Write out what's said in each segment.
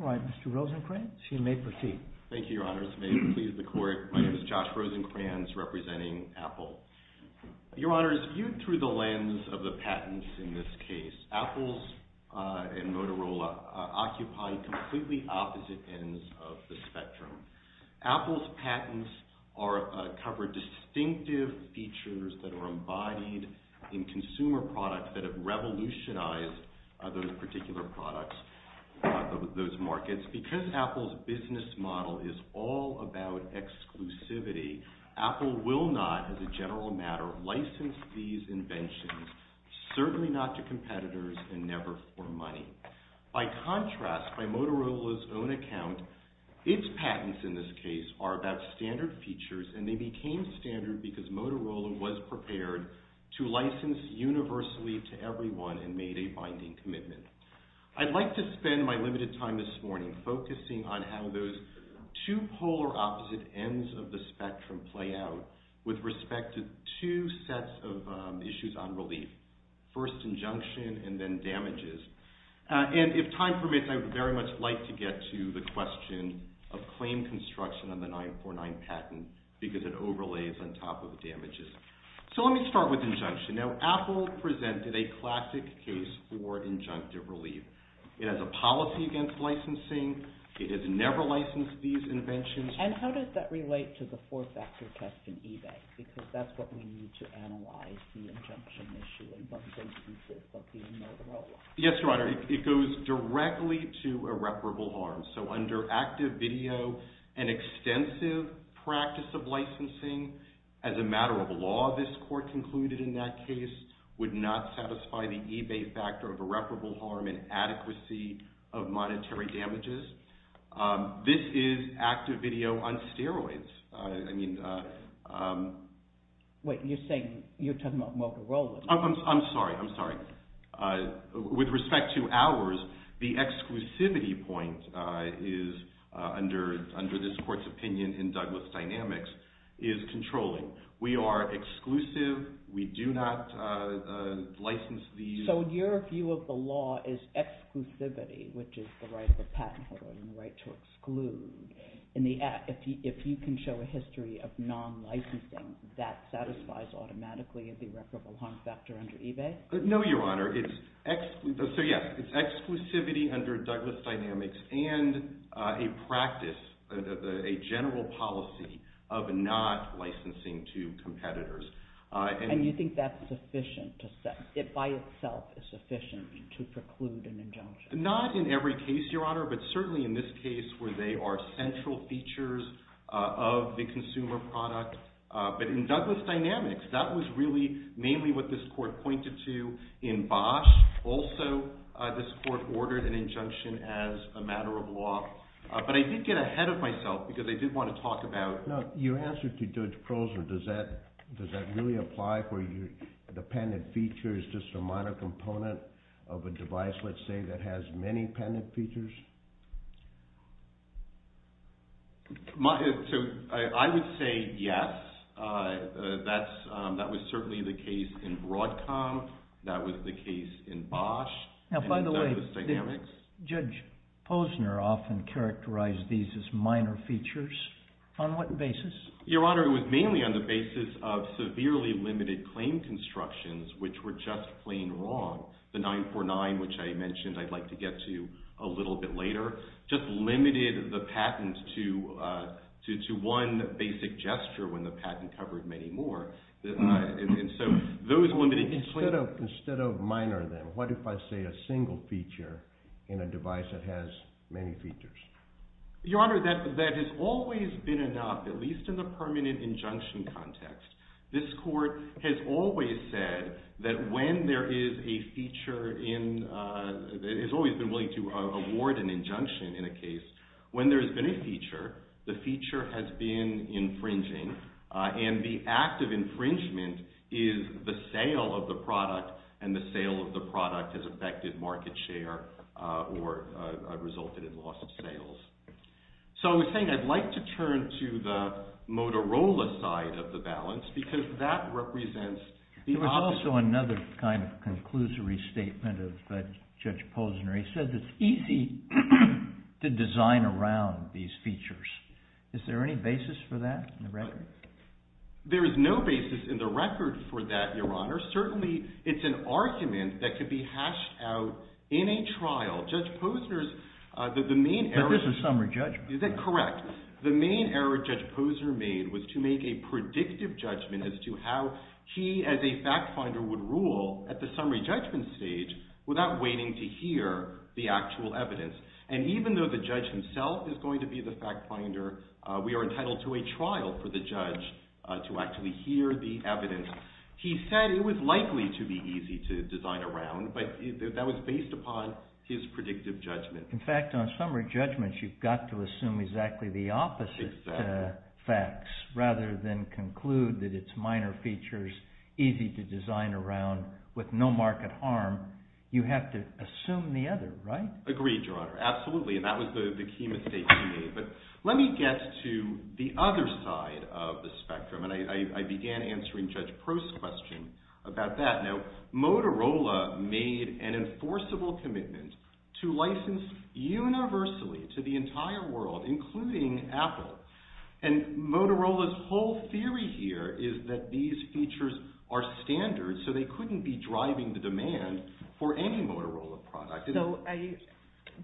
All right, Mr. Rosencrantz, you may proceed. Thank you, Your Honors. May it please the Court, my name is Josh Rosencrantz, representing Apple. Your Honors, viewed through the lens of the patents in this case, Apple's and Motorola occupy completely opposite ends of the spectrum. Apple's patents cover distinctive features that are embodied in consumer products that have revolutionized those particular products, those markets. Because Apple's business model is all about exclusivity, Apple will not, as a general matter, license these inventions, certainly not to competitors and never for money. By contrast, by Motorola's own account, its patents, in this case, are about standard features and they became standard because Motorola was prepared to license universally to everyone and made a binding commitment. I'd like to spend my limited time this morning focusing on how those two polar opposite ends of the spectrum play out with respect to two sets of issues on relief, first injunction and then damages. And if time permits, I would very much like to get to the question of claim construction on the 949 patent because it overlays on top of damages. So let me start with injunction. Now, Apple presented a classic case for injunctive relief. It has a policy against licensing. It has never licensed these inventions. And how does that relate to the four-factor test in eBay? Because that's what we need to analyze the injunction issue in both cases of the Motorola. Yes, Your Honor. It goes directly to irreparable harm. So under active video and extensive practice of licensing, as a matter of law, this court concluded in that case would not satisfy the eBay factor of irreparable harm and adequacy of monetary damages. This is active video on steroids. I mean... Wait, you're saying, you're talking about Motorola. I'm sorry, I'm sorry. With respect to ours, the exclusivity point is, under this court's opinion in Douglas Dynamics, is controlling. We are exclusive. We do not license these. So your view of the law is exclusivity, which is the right of the patent holder and the right to exclude. If you can show a history of non-licensing, that satisfies automatically the irreparable harm factor under eBay? No, Your Honor. So yes, it's exclusivity under Douglas Dynamics and a practice, a general policy of not licensing to competitors. And you think that's sufficient? It by itself is sufficient to preclude an injunction? Not in every case, Your Honor, but certainly in this case where they are central features of the consumer product. But in Douglas Dynamics, that was really mainly what this court pointed to. In Bosch, also, this court ordered an injunction as a matter of law. But I did get ahead of myself because I did want to talk about... Your answer to Judge Posner, does that really apply where the patented feature is just a minor component of a device, let's say, that has many patented features? I would say yes. That was certainly the case in Broadcom. That was the case in Bosch and in Douglas Dynamics. Does Judge Posner often characterize these as minor features? On what basis? Your Honor, it was mainly on the basis of severely limited claim constructions, which were just plain wrong. The 949, which I mentioned I'd like to get to a little bit later, just limited the patent to one basic gesture when the patent covered many more. Instead of minor, then, what if I say a single feature in a device that has many features? Your Honor, that has always been enough, at least in the permanent injunction context. This court has always said that when there is a feature in... It's always been willing to award an injunction in a case. When there has been a feature, the feature has been infringing, and the act of infringement is the sale of the product, and the sale of the product has affected market share or resulted in loss of sales. I was saying I'd like to turn to the Motorola side of the balance, because that represents the opposite... There was also another kind of conclusory statement of Judge Posner. He said it's easy to design around these features. Is there any basis for that in the record? There is no basis in the record for that, Your Honor. Certainly, it's an argument that could be hashed out in a trial. Judge Posner's... But this is summary judgment. Is that correct? The main error Judge Posner made was to make a predictive judgment as to how he, as a fact finder, would rule at the summary judgment stage without waiting to hear the actual evidence. Even though the judge himself is going to be the fact finder, we are entitled to a trial for the judge to actually hear the evidence. He said it was likely to be easy to design around, but that was based upon his predictive judgment. In fact, on summary judgments, you've got to assume exactly the opposite facts rather than conclude that it's minor features easy to design around with no market harm. You have to assume the other, right? Agreed, Your Honor. Absolutely. That was the key mistake he made. Let me get to the other side of the spectrum. I began answering Judge Prost's question about that. Now, Motorola made an enforceable commitment to license universally to the entire world, including Apple. Motorola's whole theory here is that these features are standard, so they couldn't be driving the demand for any Motorola product.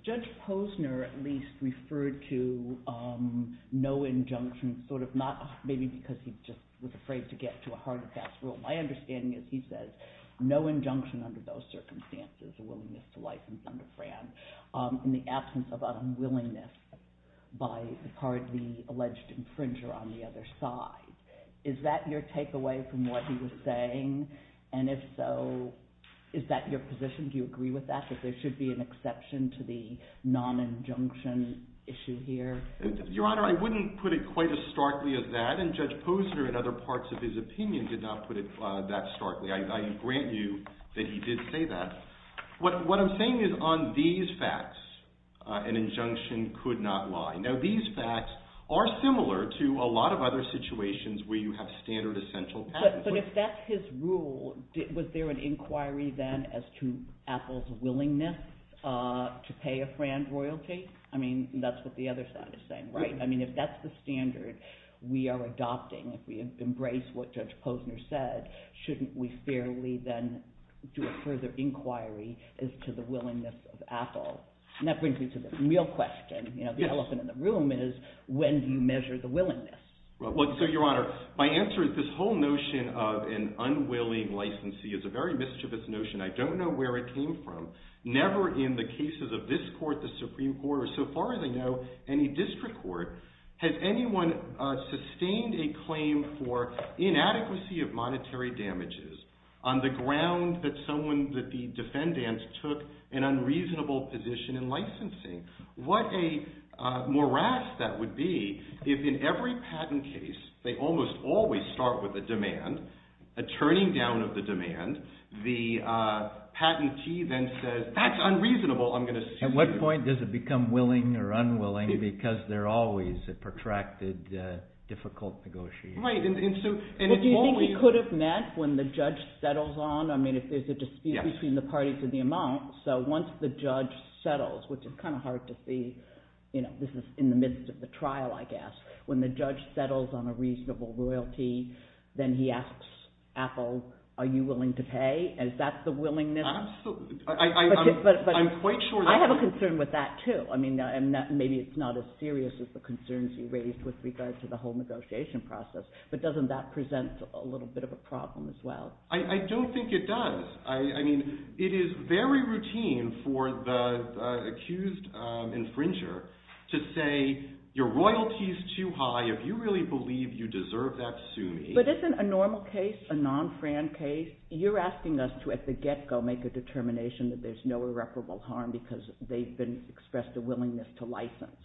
Judge Posner at least referred to no injunction, maybe because he was afraid to get to a hard and fast rule. My understanding is he says no injunction under those circumstances, a willingness to on the other side. Is that your takeaway from what he was saying? And if so, is that your position? Do you agree with that, that there should be an exception to the non-injunction issue here? Your Honor, I wouldn't put it quite as starkly as that, and Judge Posner in other parts of his opinion did not put it that starkly. I grant you that he did say that. What I'm saying is on these facts, an injunction could not lie. Now, these facts are similar to a lot of other situations where you have standard, essential... But if that's his rule, was there an inquiry then as to Apple's willingness to pay a friend royalty? I mean, that's what the other side is saying, right? I mean, if that's the standard we are adopting, if we embrace what Judge Posner said, shouldn't And that brings me to the real question, the elephant in the room is, when do you measure the willingness? So, Your Honor, my answer is this whole notion of an unwilling licensee is a very mischievous notion. I don't know where it came from. Never in the cases of this court, the Supreme Court, or so far as I know, any district court, has anyone sustained a claim for inadequacy of monetary damages on the ground that someone, that the defendants took an unreasonable position in licensing. What a morass that would be if in every patent case, they almost always start with a demand, a turning down of the demand. The patentee then says, that's unreasonable, I'm going to sue you. At what point does it become willing or unwilling because they're always a protracted, difficult negotiation? Right, and so... It could have met when the judge settles on, I mean, if there's a dispute between the parties and the amount, so once the judge settles, which is kind of hard to see, you know, this is in the midst of the trial, I guess. When the judge settles on a reasonable royalty, then he asks Apple, are you willing to pay? Is that the willingness? I'm quite sure that... I have a concern with that, too. I mean, maybe it's not as serious as the concerns you raised with regard to the whole negotiation process, but doesn't that present a little bit of a problem as well? I don't think it does. I mean, it is very routine for the accused infringer to say, your royalty is too high, if you really believe you deserve that, sue me. But isn't a normal case, a non-Fran case, you're asking us to, at the get-go, make a determination that there's no irreparable harm because they've been expressed a willingness to license.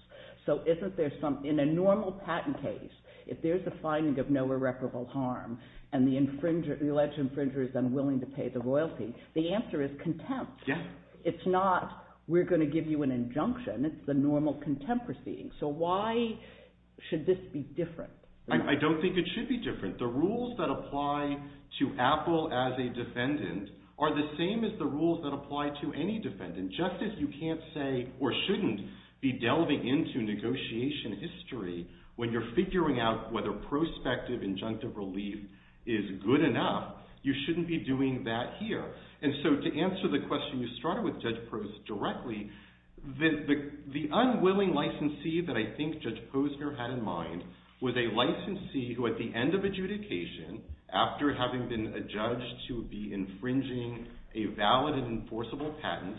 So isn't there some... In a normal patent case, if there's a finding of no irreparable harm and the alleged infringer is unwilling to pay the royalty, the answer is contempt. Yes. It's not, we're going to give you an injunction. It's the normal contempt proceeding. So why should this be different? I don't think it should be different. The rules that apply to Apple as a defendant are the same as the rules that apply to any defendant. When you're going into negotiation history, when you're figuring out whether prospective injunctive relief is good enough, you shouldn't be doing that here. And so to answer the question, you started with Judge Posner directly, the unwilling licensee that I think Judge Posner had in mind was a licensee who at the end of adjudication, after having been adjudged to be infringing a valid and enforceable patent,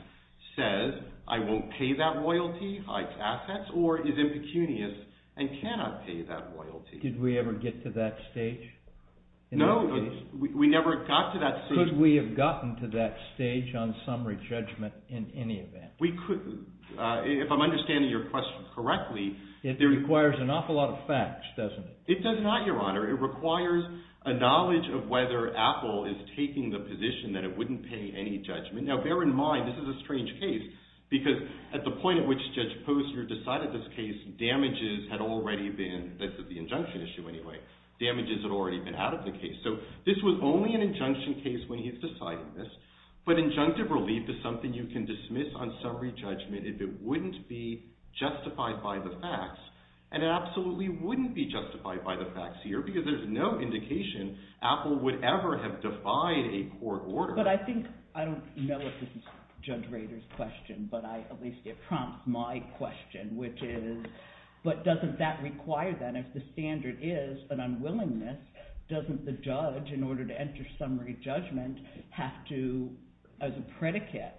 says, I won't pay that royalty, hikes assets, or is impecunious and cannot pay that royalty. Did we ever get to that stage? No, we never got to that stage. Could we have gotten to that stage on summary judgment in any event? We couldn't. If I'm understanding your question correctly... It requires an awful lot of facts, doesn't it? It does not, Your Honor. It requires a knowledge of whether Apple is taking the position that it wouldn't pay any judgment. Now, bear in mind, this is a strange case, because at the point at which Judge Posner decided this case, damages had already been, this is the injunction issue anyway, damages had already been out of the case. So this was only an injunction case when he had decided this, but injunctive relief is something you can dismiss on summary judgment if it wouldn't be justified by the facts, and it absolutely wouldn't be justified by the facts here, because there's no indication Apple would ever have defied a court order. But I think, I don't know if this is Judge Rader's question, but at least it prompts my question, which is, but doesn't that require then, if the standard is an unwillingness, doesn't the judge, in order to enter summary judgment, have to, as a predicate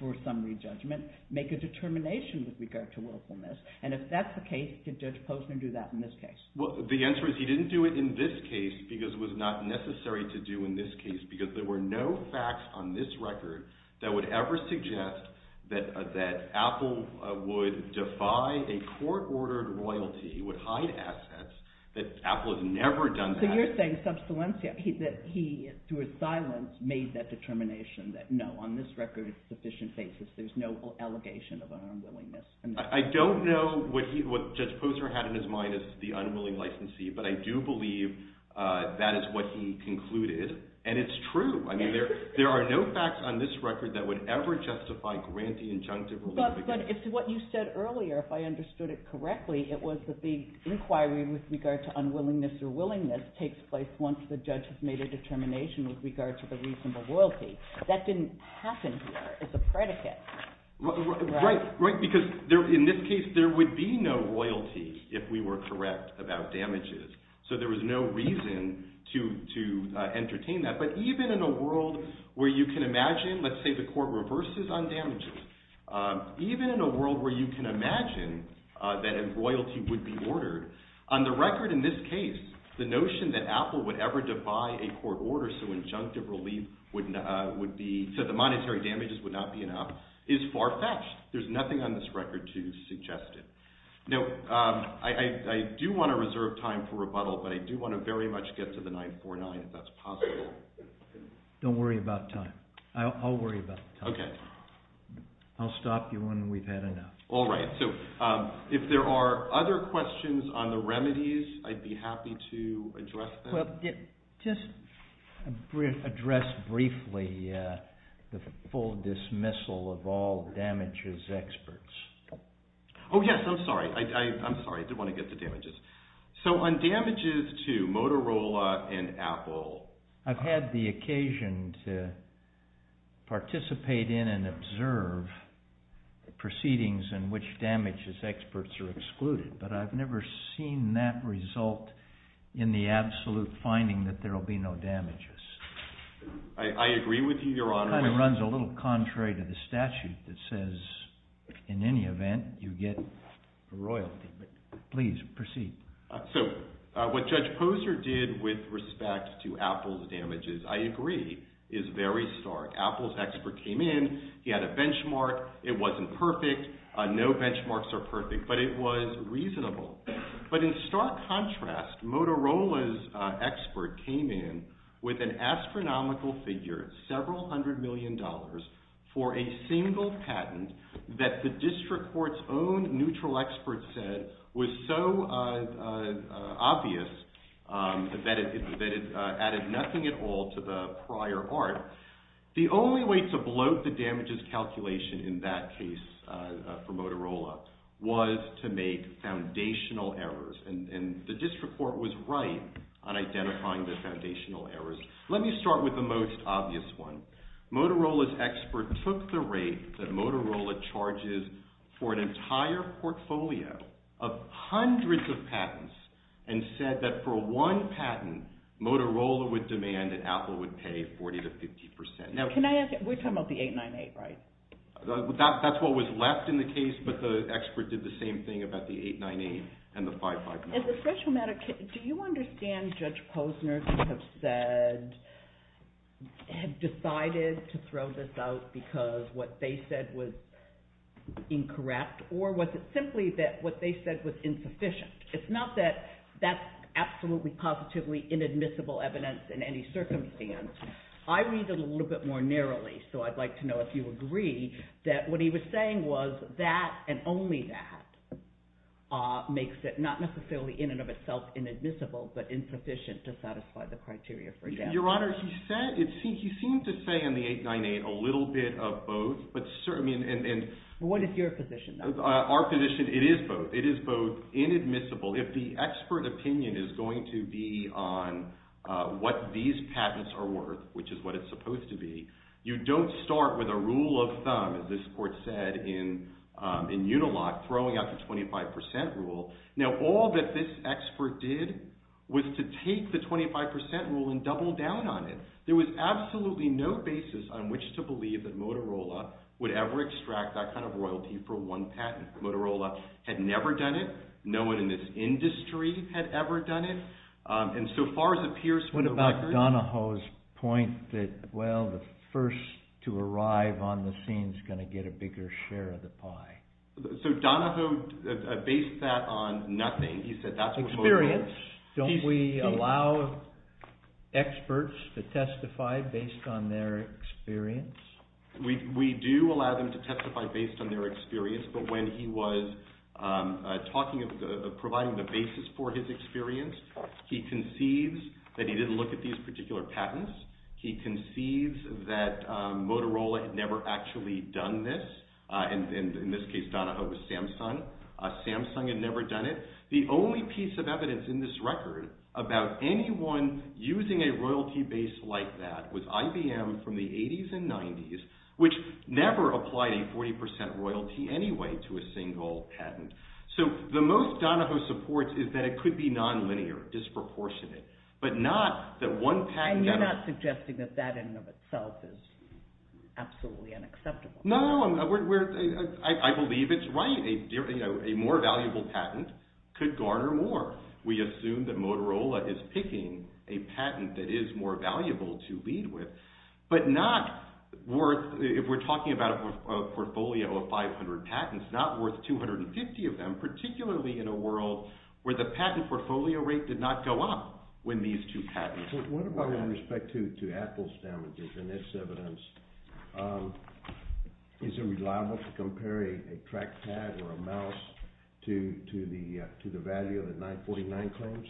for summary judgment, make a determination with regard to willfulness? And if that's the case, did Judge Posner do that in this case? Well, the answer is he didn't do it in this case, because it was not necessary to do in this case, because there were no facts on this record that would ever suggest that Apple would defy a court-ordered royalty, would hide assets, that Apple has never done that. So you're saying that he, through his silence, made that determination, that no, on this record, sufficient basis, there's no allegation of an unwillingness. I don't know what Judge Posner had in his mind as the unwilling licensee, but I do believe that is what he concluded, and it's true. I mean, there are no facts on this record that would ever justify grantee-injunctive royalty. But if what you said earlier, if I understood it correctly, it was that the inquiry with regard to unwillingness or willingness takes place once the judge has made a determination with regard to the reasonable royalty. That didn't happen here as a predicate. Right, because in this case, there would be no royalty if we were correct about damages. So there was no reason to entertain that. But even in a world where you can imagine, let's say the court reverses on damages, even in a world where you can imagine that a royalty would be ordered, on the record in this case, the notion that Apple would ever defy a court order so injunctive relief would be, so the monetary damages would not be enough, is far-fetched. There's nothing on this record to suggest it. Now, I do want to reserve time for rebuttal, but I do want to very much get to the 949 if that's possible. Don't worry about time. I'll worry about time. Okay. I'll stop you when we've had enough. All right. So if there are other questions on the remedies, I'd be happy to address them. Well, just address briefly the full dismissal of all damages experts. Oh, yes. I'm sorry. I'm sorry. I did want to get to damages. So on damages to Motorola and Apple. I've had the occasion to participate in and observe proceedings in which damages experts are excluded, but I've never seen that result in the absolute finding that there will be no damages. I agree with you, Your Honor. That kind of runs a little contrary to the statute that says, in any event, you get royalty. But please, proceed. So what Judge Posner did with respect to Apple's damages, I agree, is very stark. Apple's expert came in. He had a benchmark. It wasn't perfect. No benchmarks are perfect, but it was reasonable. But in stark contrast, Motorola's expert came in with an astronomical figure, several hundred million dollars, for a single patent that the district court's own neutral expert said was so obvious that it added nothing at all to the prior art. The only way to bloat the damages calculation in that case for Motorola was to make foundational errors, and the district court was right on identifying the foundational errors. Let me start with the most obvious one. Motorola's expert took the rate that Motorola charges for an entire portfolio of hundreds of patents, and said that for one patent, Motorola would demand that Apple would pay 40 to 50%. Now, can I ask, we're talking about the 898, right? That's what was left in the case, but the expert did the same thing about the 898 and the 559. As a special matter, do you understand Judge Posner could have said, had decided to throw this out because what they said was incorrect? Or was it simply that what they said was insufficient? It's not that that's absolutely positively inadmissible evidence in any circumstance. I read it a little bit more narrowly, so I'd like to know if you agree that what he was saying was that and only that makes it not necessarily in and of itself inadmissible, but insufficient to satisfy the criteria for damages. Your Honor, he seemed to say in the 898 a little bit of both. What is your position? Our position, it is both. It is both inadmissible. If the expert opinion is going to be on what these patents are worth, which is what it's supposed to be, you don't start with a rule of thumb, as this court said in Unilock, throwing out the 25% rule. Now, all that this expert did was to take the 25% rule and double down on it. There was absolutely no basis on which to believe that Motorola would ever extract that kind of royalty for one patent. Motorola had never done it. No one in this industry had ever done it. And so far as it appears from the record... What about Donahoe's point that, well, the first to arrive on the scene is going to get a bigger share of the pie? So Donahoe based that on nothing. He said that's what Motorola... Experience. Don't we allow experts to testify based on their experience? We do allow them to testify based on their experience, but when he was providing the basis for his experience, he concedes that he didn't look at these particular patents. He concedes that Motorola had never actually done this. In this case, Donahoe was Samsung. Samsung had never done it. The only piece of evidence in this record about anyone using a royalty base like that was IBM from the 80s and 90s, which never applied a 40% royalty anyway to a single patent. So the most Donahoe supports is that it could be nonlinear, disproportionate, but not that one patent... And you're not suggesting that that in and of itself is absolutely unacceptable? No, I believe it's right. A more valuable patent could garner more. We assume that Motorola is picking a patent that is more valuable to lead with, but not worth... If we're talking about a portfolio of 500 patents, not worth 250 of them, particularly in a world where the patent portfolio rate did not go up when these two patents... What about in respect to Apple's damages in this evidence? Is it reliable to compare a track pad or a mouse to the value of the 949 claims?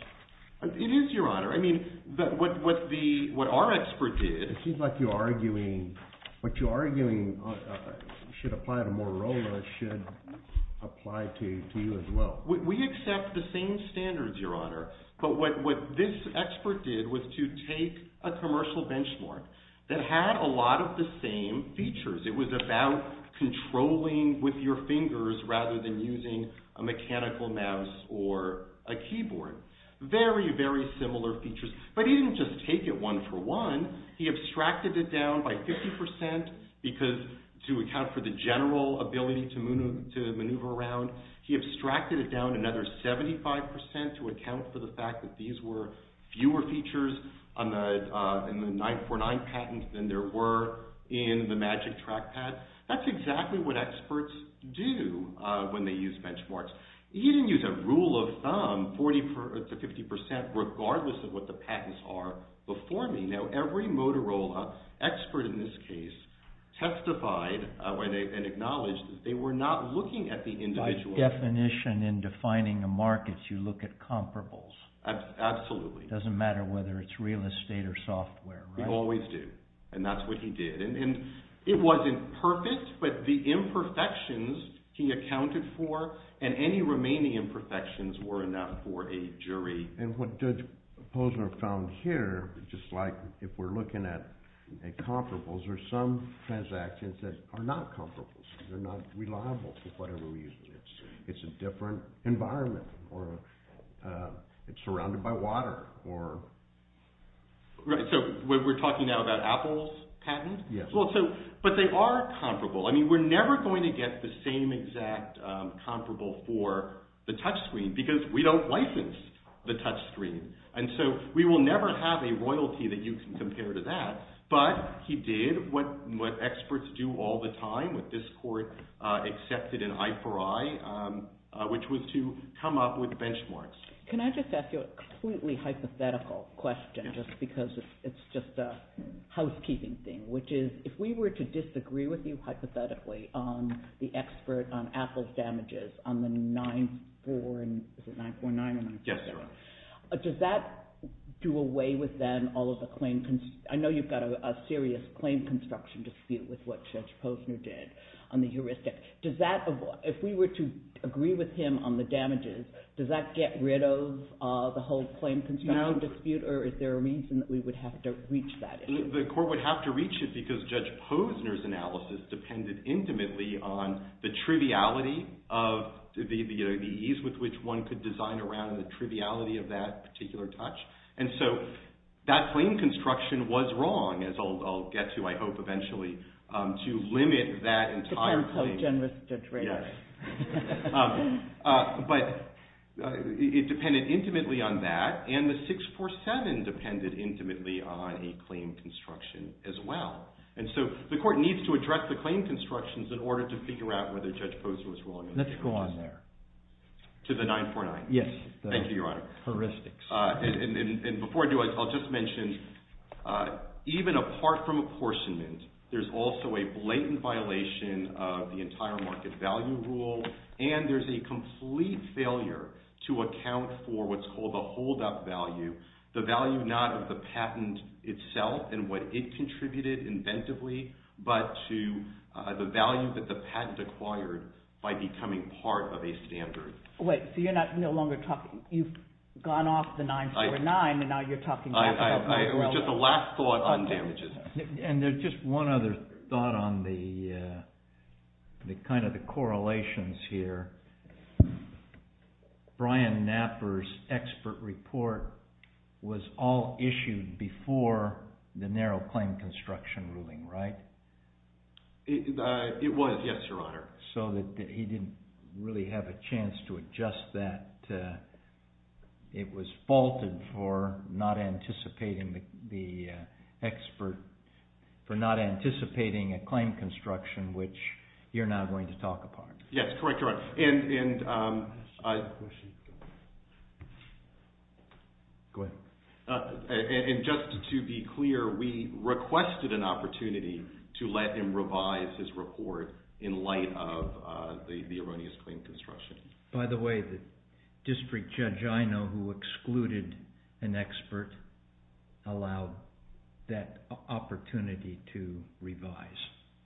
It is, Your Honor. I mean, what our expert did... It seems like what you're arguing should apply to Motorola should apply to you as well. We accept the same standards, Your Honor, but what this expert did was to take a commercial benchmark that had a lot of the same features. It was about controlling with your fingers rather than using a mechanical mouse or a keyboard. Very, very similar features, but he didn't just take it one for one. He abstracted it down by 50% to account for the general ability to maneuver around. He abstracted it down another 75% to account for the fact that these were fewer features in the 949 patent than there were in the magic track pad. That's exactly what experts do when they use benchmarks. He didn't use a rule of thumb, 40% to 50%, regardless of what the patents are, before me. Now, every Motorola expert in this case testified and acknowledged that they were not looking at the individual. By definition, in defining a market, you look at comparables. Absolutely. It doesn't matter whether it's real estate or software, right? We always do, and that's what he did. It wasn't perfect, but the imperfections he accounted for and any remaining imperfections were enough for a jury. What Judge Posner found here, just like if we're looking at comparables, there are some transactions that are not comparables. They're not reliable for whatever reason. It's a different environment, or it's surrounded by water. Right, so we're talking now about Apple's patent? Yes. But they are comparable. I mean, we're never going to get the same exact comparable for the touchscreen, because we don't license the touchscreen. We will never have a royalty that you can compare to that, but he did what experts do all the time, what this court accepted in eye for eye, which was to come up with benchmarks. Can I just ask you a completely hypothetical question, just because it's just a housekeeping thing, which is, if we were to disagree with you hypothetically on the expert on Apple's on the 9-4, is it 9-4-9? Yes, sir. Does that do away with then all of the claim, I know you've got a serious claim construction dispute with what Judge Posner did on the heuristic. Does that, if we were to agree with him on the damages, does that get rid of the whole claim construction dispute, or is there a reason that we would have to reach that issue? The court would have to reach it because Judge Posner's analysis depended intimately on the ease with which one could design around the triviality of that particular touch, and so that claim construction was wrong, as I'll get to, I hope, eventually, to limit that entire claim. Depends how generous Judge Ray is. But it depended intimately on that, and the 6-4-7 depended intimately on a claim construction as well, and so the court needs to address the claim constructions in order to figure out whether Judge Posner was wrong. Let's go on there. To the 9-4-9? Yes. Thank you, Your Honor. Heuristics. And before I do, I'll just mention, even apart from apportionment, there's also a blatant violation of the entire market value rule, and there's a complete failure to account for what's called the holdup value, the value not of the patent itself and what it contributed inventively, but to the value that the patent acquired by becoming part of a standard. Wait, so you're no longer talking, you've gone off the 9-4-9, and now you're talking about the holdup value rule? Just a last thought on damages. And just one other thought on the kind of the correlations here. Brian Knapper's expert report was all issued before the narrow claim construction ruling, right? It was, yes, Your Honor. So that he didn't really have a chance to adjust that. It was faulted for not anticipating the expert, for not anticipating a claim construction, which you're now going to talk about. Yes, correct, correct. And just to be clear, we requested an opportunity to let him revise his report in light of the erroneous claim construction. By the way, the district judge I know who excluded an expert allowed that opportunity to revise.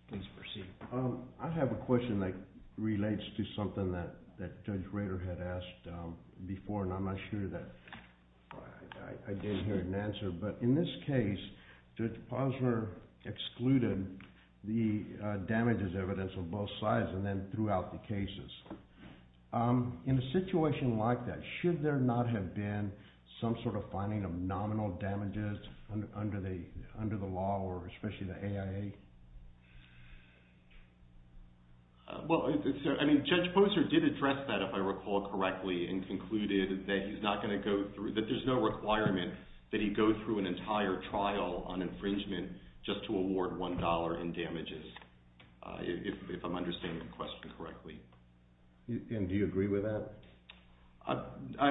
Please proceed. I have a question that relates to something that Judge Rader had asked before, and I'm not sure that I gave her an answer. But in this case, Judge Posner excluded the damages evidence on both sides, and then threw out the cases. In a situation like that, should there not have been some sort of finding of nominal damages under the law, or especially the AIA? Well, Judge Posner did address that, if I recall correctly, and concluded that there's no requirement that he go through an entire trial on infringement just to award $1 in damages, if I'm understanding the question correctly. And do you agree with that?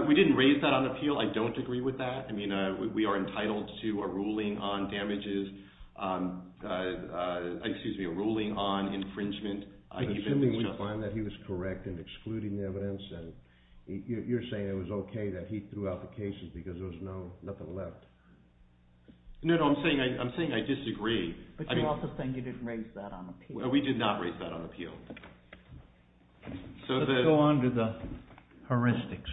We didn't raise that on appeal. I don't agree with that. I mean, we are entitled to a ruling on damages, excuse me, a ruling on infringement. Assuming we find that he was correct in excluding the evidence, and you're saying it was okay that he threw out the cases because there was nothing left. No, no, I'm saying I disagree. But you're also saying you didn't raise that on appeal. We did not raise that on appeal. Let's go on to the heuristics.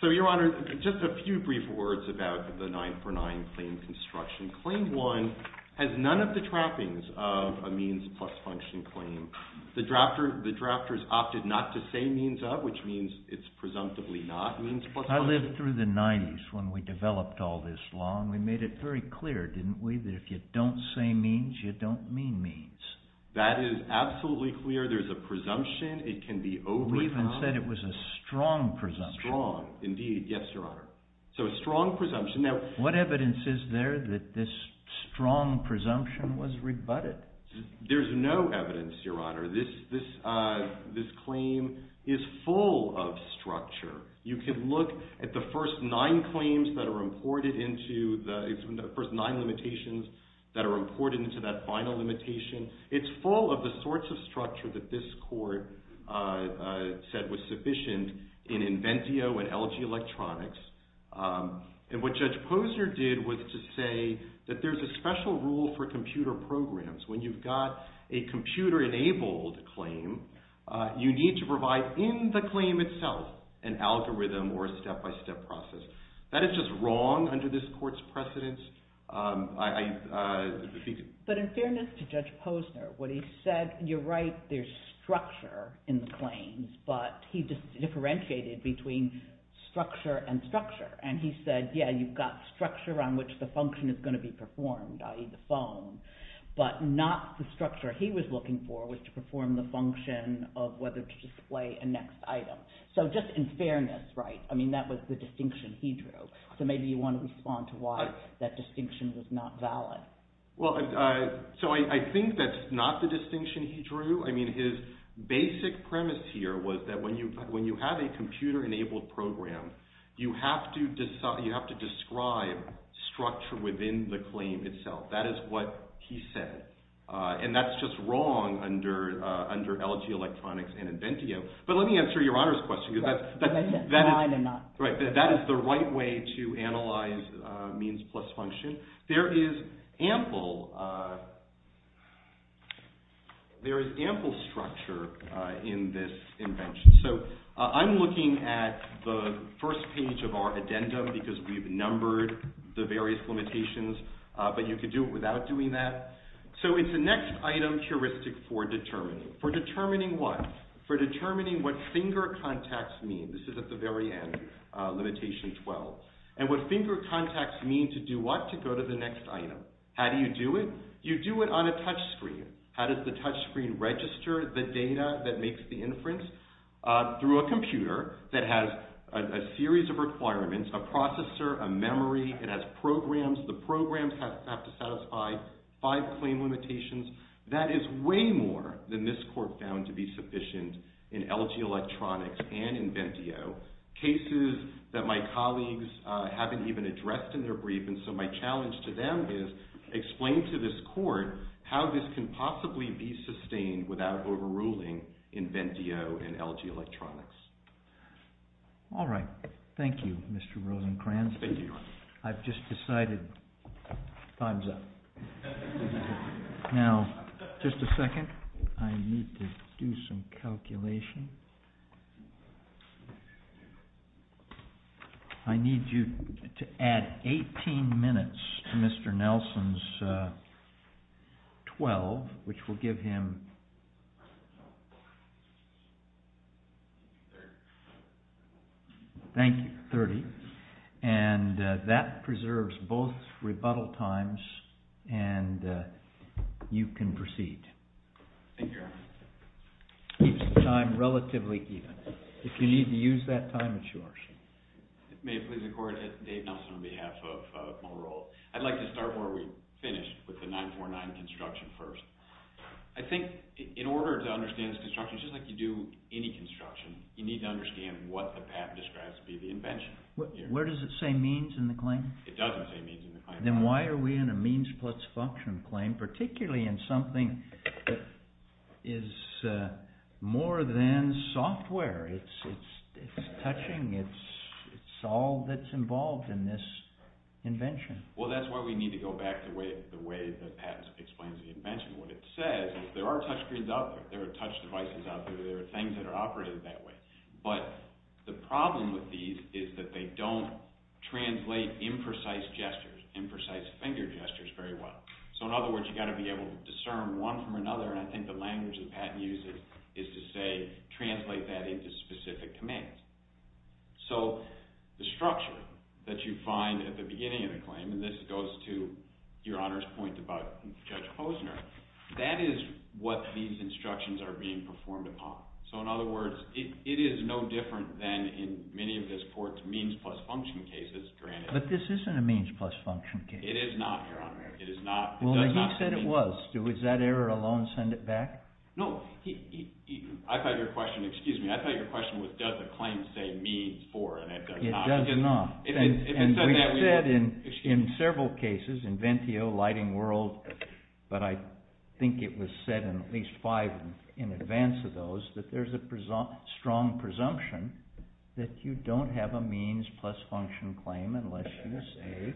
So, Your Honor, just a few brief words about the 949 claim construction. Claim 1 has none of the trappings of a means plus function claim. The drafters opted not to say means of, which means it's presumptively not means plus function. I lived through the 90s when we developed all this law, and we made it very clear, didn't we, that if you don't say means, you don't mean means. That is absolutely clear. There's a presumption. It can be overturned. You said it was a strong presumption. Strong, indeed. Yes, Your Honor. So a strong presumption. Now, what evidence is there that this strong presumption was rebutted? There's no evidence, Your Honor. This claim is full of structure. You can look at the first nine claims that are imported into the first nine limitations that are imported into that final limitation. It's full of the sorts of structure that this court said was sufficient in Inventio and LG Electronics. And what Judge Posner did was to say that there's a special rule for computer programs. When you've got a computer-enabled claim, you need to provide in the claim itself an algorithm or a step-by-step process. That is just wrong under this court's precedence. But in fairness to Judge Posner, what he said, you're right, there's structure in the claims. But he differentiated between structure and structure. And he said, yeah, you've got structure on which the function is going to be performed, i.e., the phone. But not the structure he was looking for was to perform the function of whether to display a next item. So just in fairness, right? I mean, that was the distinction he drew. So maybe you want to respond to why that distinction was not valid. Well, so I think that's not the distinction he drew. I mean, his basic premise here was that when you have a computer-enabled program, you have to describe structure within the claim itself. That is what he said. And that's just wrong under LG Electronics and Inventio. But let me answer Your Honor's question. That is the right way to analyze means plus function. There is ample structure in this invention. So I'm looking at the first page of our addendum because we've numbered the various limitations. But you could do it without doing that. So it's a next item heuristic for determining. For determining what? For determining what finger contacts mean. This is at the very end, limitation 12. And what finger contacts mean to do what? To go to the next item. How do you do it? You do it on a touchscreen. How does the touchscreen register the data that makes the inference? Through a computer that has a series of requirements. A processor, a memory, it has programs. The programs have to satisfy five claim limitations. That is way more than this court found to be sufficient in LG Electronics and Inventio. Cases that my colleagues haven't even addressed in their brief. And so my challenge to them is explain to this court how this can possibly be sustained without overruling Inventio and LG Electronics. All right. Thank you, Mr. Rosenkranz. Thank you, Your Honor. I've just decided time's up. Now, just a second. I need to do some calculation. I need you to add 18 minutes to Mr. Nelson's 12, which will give him 30. And that preserves both rebuttal times, and you can proceed. Thank you, Your Honor. Keeps the time relatively even. If you need to use that time, it's yours. May it please the court, Dave Nelson on behalf of Monroe. I'd like to start where we finished with the 949 construction first. I think in order to understand this construction, it's just like you do any construction. You need to understand what the patent describes to be the invention. Where does it say means in the claim? It doesn't say means in the claim. Then why are we in a means plus function claim, particularly in something that is more than software? It's touching. It's all that's involved in this invention. Well, that's why we need to go back to the way the patent explains the invention. What it says is there are touchscreens out there. There are touch devices out there. There are things that are operated that way. But the problem with these is that they don't translate imprecise gestures, imprecise finger gestures very well. So in other words, you've got to be able to discern one from another, and I think the language the patent uses is to say, translate that into specific commands. So the structure that you find at the beginning of the claim, and this goes to Your Honor's point about Judge Posner, that is what these instructions are being performed upon. So in other words, it is no different than in many of this court's means plus function cases, granted. But this isn't a means plus function case. It is not, Your Honor. It is not. Well, he said it was. Does that error alone send it back? No. I thought your question was, does the claim say means for, and it does not. It does not. And we've said in several cases, Inventio, Lighting World, but I think it was said in at least five in advance of those, that there's a strong presumption that you don't have a means plus function claim unless you say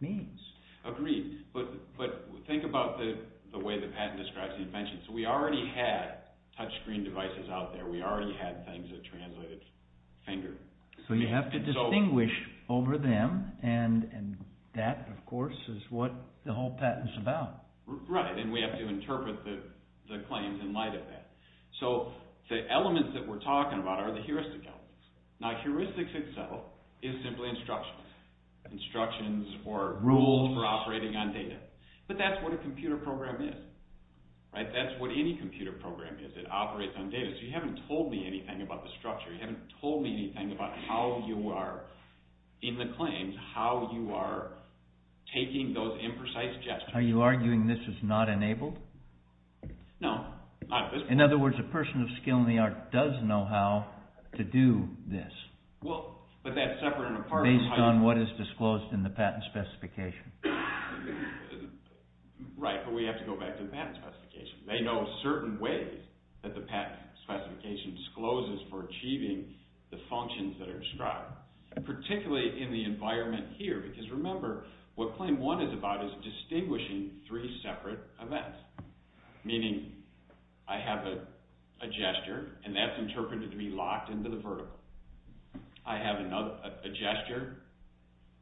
means. Agreed. But think about the way the patent describes the invention. So we already had touchscreen devices out there. We already had things that translated finger. So you have to distinguish over them, and that, of course, is what the whole patent is about. Right, and we have to interpret the claims in light of that. So the elements that we're talking about are the heuristic elements. Now heuristics itself is simply instructions. Instructions or rules for operating on data. But that's what a computer program is. That's what any computer program is. It operates on data. So you haven't told me anything about the structure. You haven't told me anything about how you are, in the claims, how you are taking those imprecise gestures. Are you arguing this is not enabled? No, not at this point. In other words, a person of skill in the art does know how to do this. Well, but that's separate and apart from how you… Based on what is disclosed in the patent specification. Right, but we have to go back to the patent specification. They know certain ways that the patent specification discloses for achieving the functions that are described. Particularly in the environment here. Because remember, what claim one is about is distinguishing three separate events. Meaning, I have a gesture, and that's interpreted to be locked into the vertical. I have a gesture,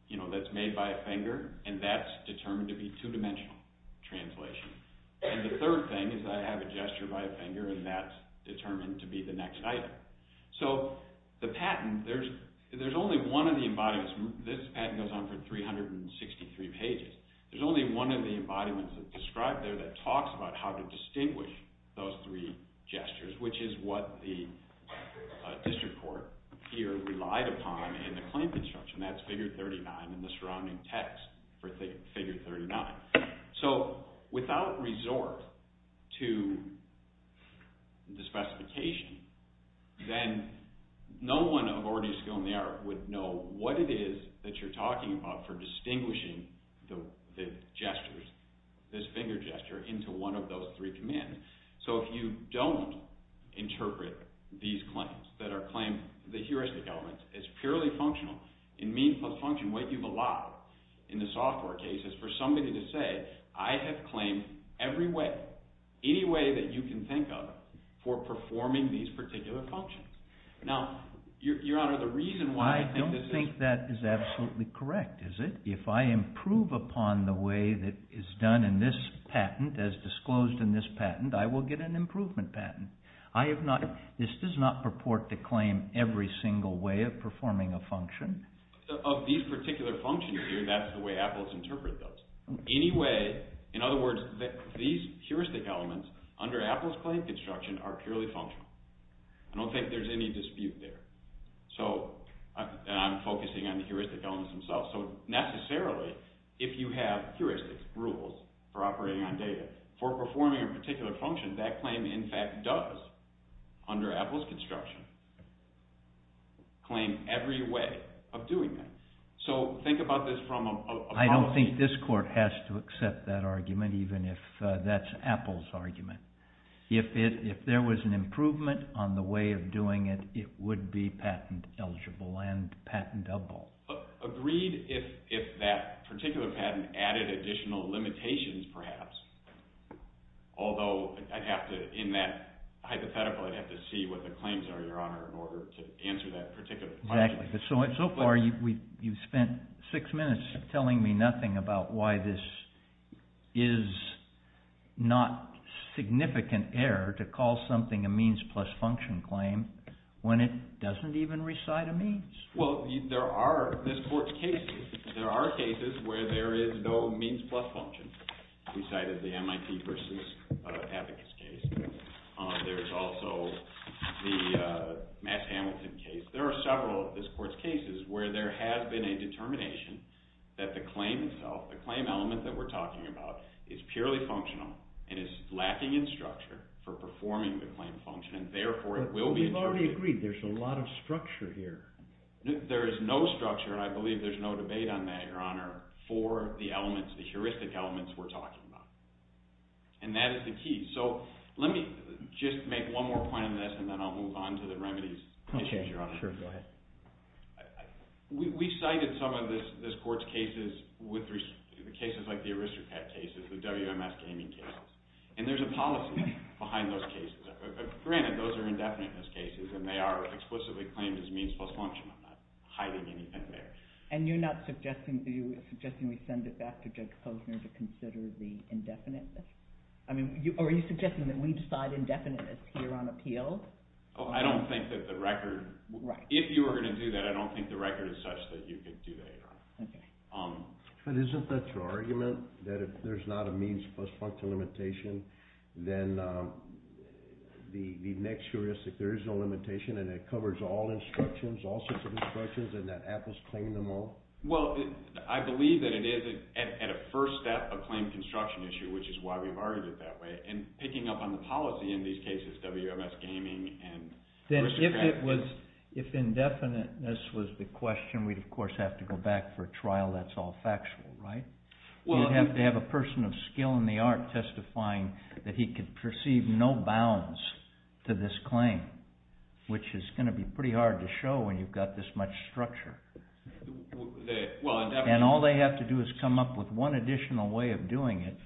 you know, that's made by a finger, and that's determined to be two-dimensional translation. And the third thing is that I have a gesture by a finger, and that's determined to be the next item. So, the patent, there's only one of the embodiments. This patent goes on for 363 pages. There's only one of the embodiments that's described there that talks about how to distinguish those three gestures. Which is what the district court here relied upon in the claim construction. That's figure 39 and the surrounding text for figure 39. So, without resort to the specification, then no one of already skill in the art would know what it is that you're talking about for distinguishing the gestures, this finger gesture, into one of those three commands. So, if you don't interpret these claims, that are claimed, the heuristic elements, as purely functional, in means plus function, what you've allowed in the software case is for somebody to say, I have claimed every way, any way that you can think of, for performing these particular functions. Now, your honor, the reason why I think this is... I don't think that is absolutely correct, is it? If I improve upon the way that is done in this patent, as disclosed in this patent, I will get an improvement patent. I have not, this does not purport to claim every single way of performing a function. Of these particular functions here, that's the way Apples interpret those. Anyway, in other words, these heuristic elements, under Apples claim construction, are purely functional. I don't think there's any dispute there. So, I'm focusing on the heuristic elements themselves. So, necessarily, if you have heuristic rules for operating on data, for performing a particular function, that claim, in fact, does, under Apples construction, claim every way of doing that. So, think about this from a policy... I don't think this court has to accept that argument, even if that's Apples' argument. If there was an improvement on the way of doing it, it would be patent eligible and patentable. Agreed if that particular patent added additional limitations, perhaps. Although, I'd have to, in that hypothetical, I'd have to see what the claims are, Your Honor, in order to answer that particular question. Exactly, but so far, you've spent six minutes telling me nothing about why this is not significant error to call something a means plus function claim when it doesn't even recite a means. Well, there are, this court's cases, there are cases where there is no means plus function. We cited the MIT versus Abacus case. There's also the Matt Hamilton case. There are several of this court's cases where there has been a determination that the claim itself, the claim element that we're talking about, is purely functional and is lacking in structure for performing the claim function, We've already agreed there's a lot of structure here. There is no structure, and I believe there's no debate on that, Your Honor, for the elements, the heuristic elements we're talking about. And that is the key, so let me just make one more point on this, and then I'll move on to the remedies. Okay, sure, go ahead. We cited some of this court's cases, the cases like the Aristocrat cases, the WMS gaming cases, and there's a policy behind those cases. Granted, those are indefiniteness cases, and they are explicitly claimed as means plus function. I'm not hiding anything there. And you're not suggesting we send it back to Judge Posner to consider the indefiniteness? I mean, are you suggesting that we decide indefiniteness here on appeal? I don't think that the record, if you were going to do that, I don't think the record is such that you could do that, Your Honor. But isn't that your argument, that if there's not a means plus function limitation, then the next heuristic, there is no limitation, and it covers all instructions, all sorts of instructions, and that Apple's claimed them all? Well, I believe that it is, at a first step, a claimed construction issue, which is why we've argued it that way. And picking up on the policy in these cases, WMS gaming and Aristocrat cases. If indefiniteness was the question, we'd, of course, have to go back for a trial that's all factual, right? You'd have to have a person of skill in the art testifying that he could perceive no bounds to this claim, which is going to be pretty hard to show when you've got this much structure. And all they have to do is come up with one additional way of doing it,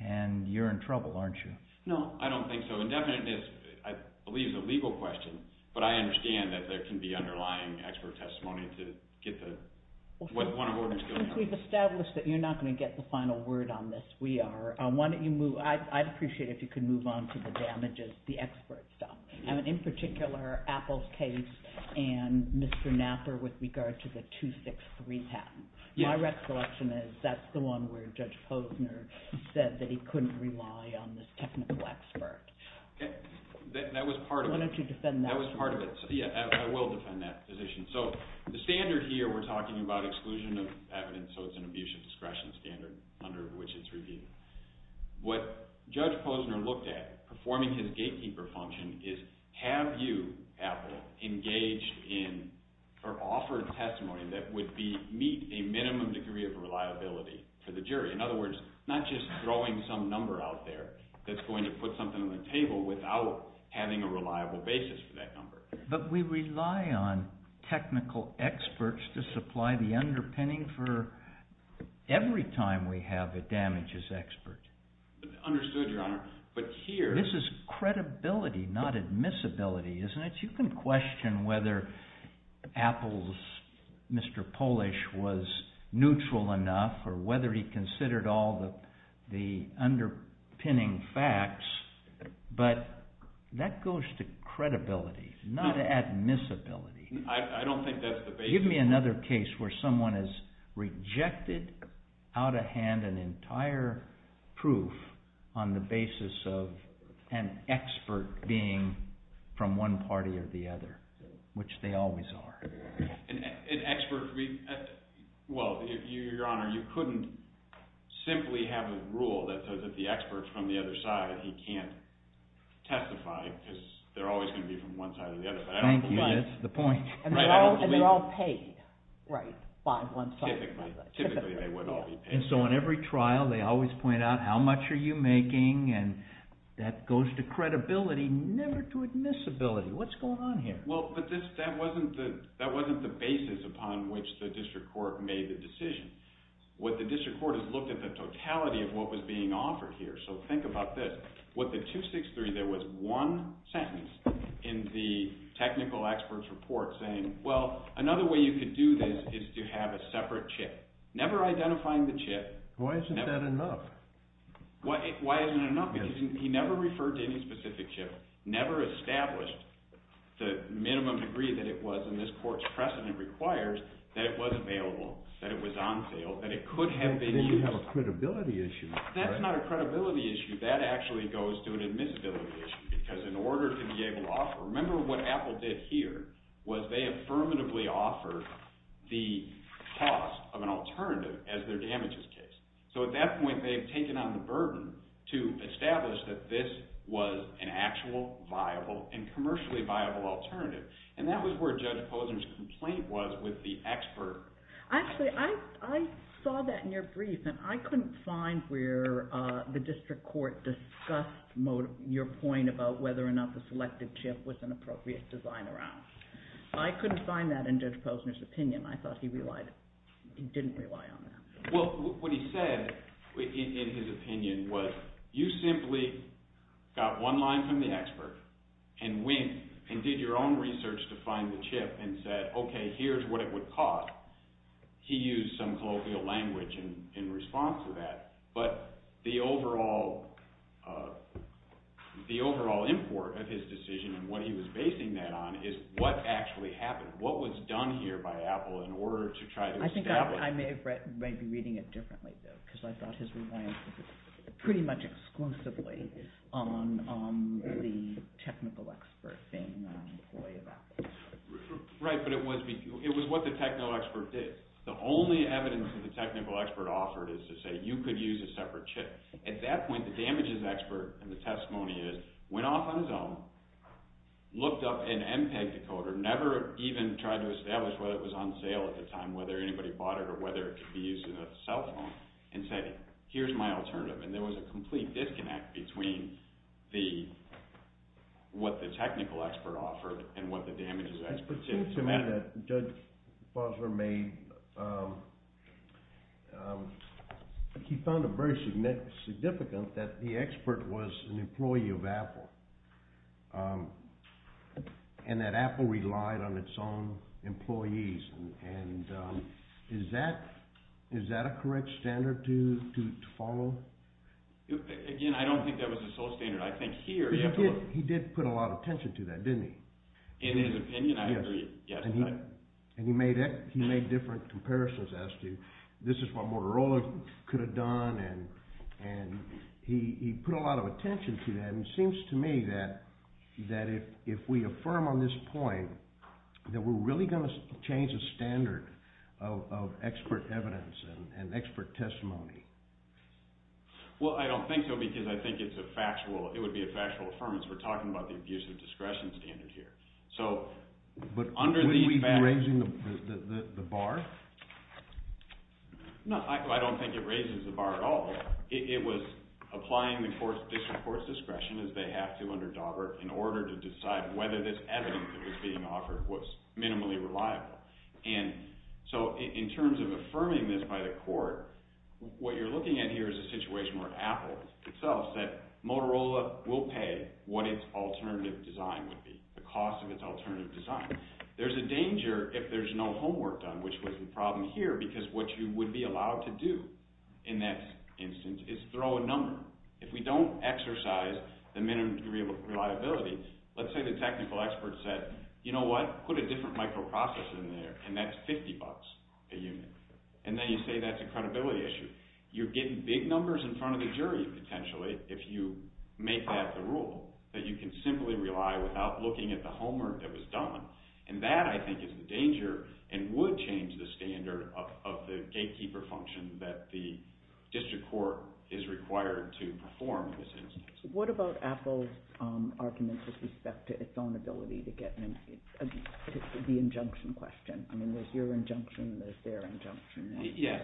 and you're in trouble, aren't you? No. I don't think so. Indefiniteness, I believe, is a legal question, but I understand that there can be underlying expert testimony to get one of the orders going. We've established that you're not going to get the final word on this. I'd appreciate it if you could move on to the damages, the expert stuff. In particular, Apple's case and Mr. Knapper with regard to the 263 patent. My recollection is that's the one where Judge Posner said that he couldn't rely on this technical expert. Okay. That was part of it. Why don't you defend that? That was part of it. Yeah, I will defend that position. So the standard here, we're talking about exclusion of evidence, so it's an abuse of discretion standard under which it's reviewed. What Judge Posner looked at performing his gatekeeper function is have you, Apple, engaged in or offered testimony that would meet a minimum degree of reliability for the jury. In other words, not just throwing some number out there that's going to put something on the table without having a reliable basis for that number. But we rely on technical experts to supply the underpinning for every time we have a damages expert. Understood, Your Honor. This is credibility, not admissibility, isn't it? You can question whether Apple's Mr. Polish was neutral enough or whether he considered all the underpinning facts, but that goes to credibility, not admissibility. I don't think that's the basis. Give me another case where someone has rejected out of hand an entire proof on the basis of an expert being from one party or the other, which they always are. An expert – well, Your Honor, you couldn't simply have a rule that says if the expert's from the other side, he can't testify because they're always going to be from one side or the other. Thank you, that's the point. And they're all paid by one side. Typically, they would all be paid. So in every trial, they always point out how much are you making, and that goes to credibility, never to admissibility. What's going on here? Well, but that wasn't the basis upon which the district court made the decision. What the district court has looked at is the totality of what was being offered here. So think about this. With the 263, there was one sentence in the technical expert's report saying, well, another way you could do this is to have a separate chip, never identifying the chip. Why isn't that enough? Why isn't it enough? Because he never referred to any specific chip, never established the minimum degree that it was in this court's precedent requires that it was available, that it was on sale, that it could have been used. Then you have a credibility issue. That's not a credibility issue. That actually goes to an admissibility issue. Because in order to be able to offer, remember what Apple did here, was they affirmatively offered the cost of an alternative as their damages case. So at that point, they've taken on the burden to establish that this was an actual, viable, and commercially viable alternative. And that was where Judge Posner's complaint was with the expert. Actually, I saw that in your brief, and I couldn't find where the district court discussed your point about whether or not the selected chip was an appropriate design around. I couldn't find that in Judge Posner's opinion. I thought he didn't rely on that. Well, what he said in his opinion was you simply got one line from the expert and went and did your own research to find the chip and said, okay, here's what it would cost. He used some colloquial language in response to that. But the overall import of his decision and what he was basing that on is what actually happened. What was done here by Apple in order to try to establish… I think I may be reading it differently, though, because I thought his reliance was pretty much exclusively on the technical expert being an employee of Apple. Right, but it was what the technical expert did. The only evidence that the technical expert offered is to say you could use a separate chip. At that point, the damages expert in the testimony went off on his own, looked up an MPEG decoder, never even tried to establish whether it was on sale at the time, whether anybody bought it or whether it could be used in a cell phone, and said, here's my alternative. And there was a complete disconnect between what the technical expert offered and what the damages expert said. It seems to me that Judge Boswer made – he found it very significant that the expert was an employee of Apple and that Apple relied on its own employees. And is that a correct standard to follow? Again, I don't think that was the sole standard. I think here… He did put a lot of attention to that, didn't he? In his opinion, I agree. And he made different comparisons as to this is what Motorola could have done, and he put a lot of attention to that. And it seems to me that if we affirm on this point that we're really going to change the standard of expert evidence and expert testimony… Well, I don't think so because I think it's a factual – it would be a factual affirmance. We're talking about the abuse of discretion standard here. So under these… But wouldn't we be raising the bar? No, I don't think it raises the bar at all. It was applying the court's discretion, as they have to under Daubert, in order to decide whether this evidence that was being offered was minimally reliable. And so in terms of affirming this by the court, what you're looking at here is a situation where Apple itself said Motorola will pay what its alternative design would be, the cost of its alternative design. There's a danger if there's no homework done, which was the problem here because what you would be allowed to do in that instance is throw a number. If we don't exercise the minimum reliability, let's say the technical expert said, you know what, put a different microprocessor in there, and that's 50 bucks a unit. And then you say that's a credibility issue. You're getting big numbers in front of the jury, potentially, if you make that the rule, that you can simply rely without looking at the homework that was done. And that, I think, is the danger and would change the standard of the gatekeeper function that the district court is required to perform in this instance. What about Apple's argument with respect to its own ability to get the injunction question? I mean, there's your injunction, there's their injunction. Yes,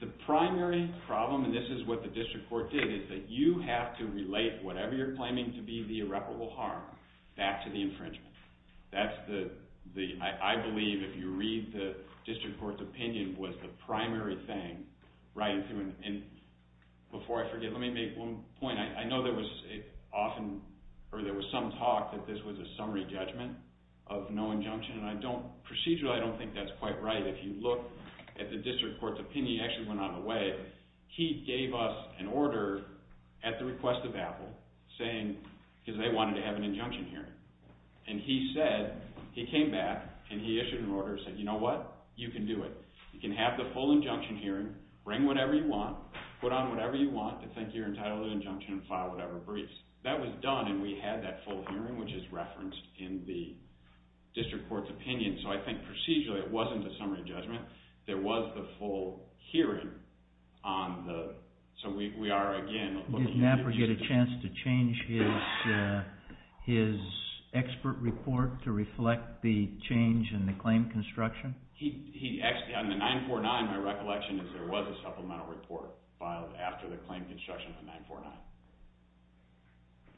the primary problem, and this is what the district court did, is that you have to relate whatever you're claiming to be the irreparable harm back to the infringement. That's the, I believe, if you read the district court's opinion, was the primary thing. Right, and before I forget, let me make one point. I know there was often, or there was some talk that this was a summary judgment of no injunction, and I don't, procedurally, I don't think that's quite right. If you look at the district court's opinion, it actually went out of the way. He gave us an order at the request of Apple saying, because they wanted to have an injunction hearing. And he said, he came back, and he issued an order and said, you know what, you can do it. You can have the full injunction hearing, bring whatever you want, put on whatever you want, to think you're entitled to an injunction and file whatever briefs. That was done, and we had that full hearing, which is referenced in the district court's opinion. So, I think, procedurally, it wasn't a summary judgment. There was the full hearing on the, so we are, again, looking at the district court's opinion. Did Napper get a chance to change his expert report to reflect the change in the claim construction? He, actually, on the 949, my recollection is there was a supplemental report filed after the claim construction of the 949.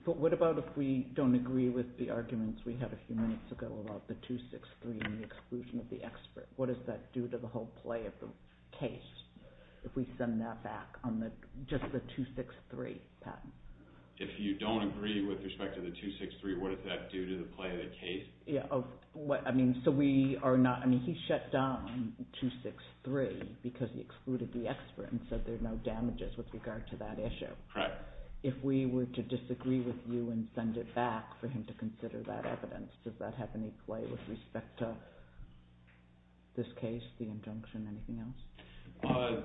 But what about if we don't agree with the arguments we had a few minutes ago about the 263 and the exclusion of the expert? What does that do to the whole play of the case, if we send that back on just the 263 patent? If you don't agree with respect to the 263, what does that do to the play of the case? So we are not, I mean, he shut down 263 because he excluded the expert and said there's no damages with regard to that issue. Correct. If we were to disagree with you and send it back for him to consider that evidence, does that have any play with respect to this case, the injunction, anything else?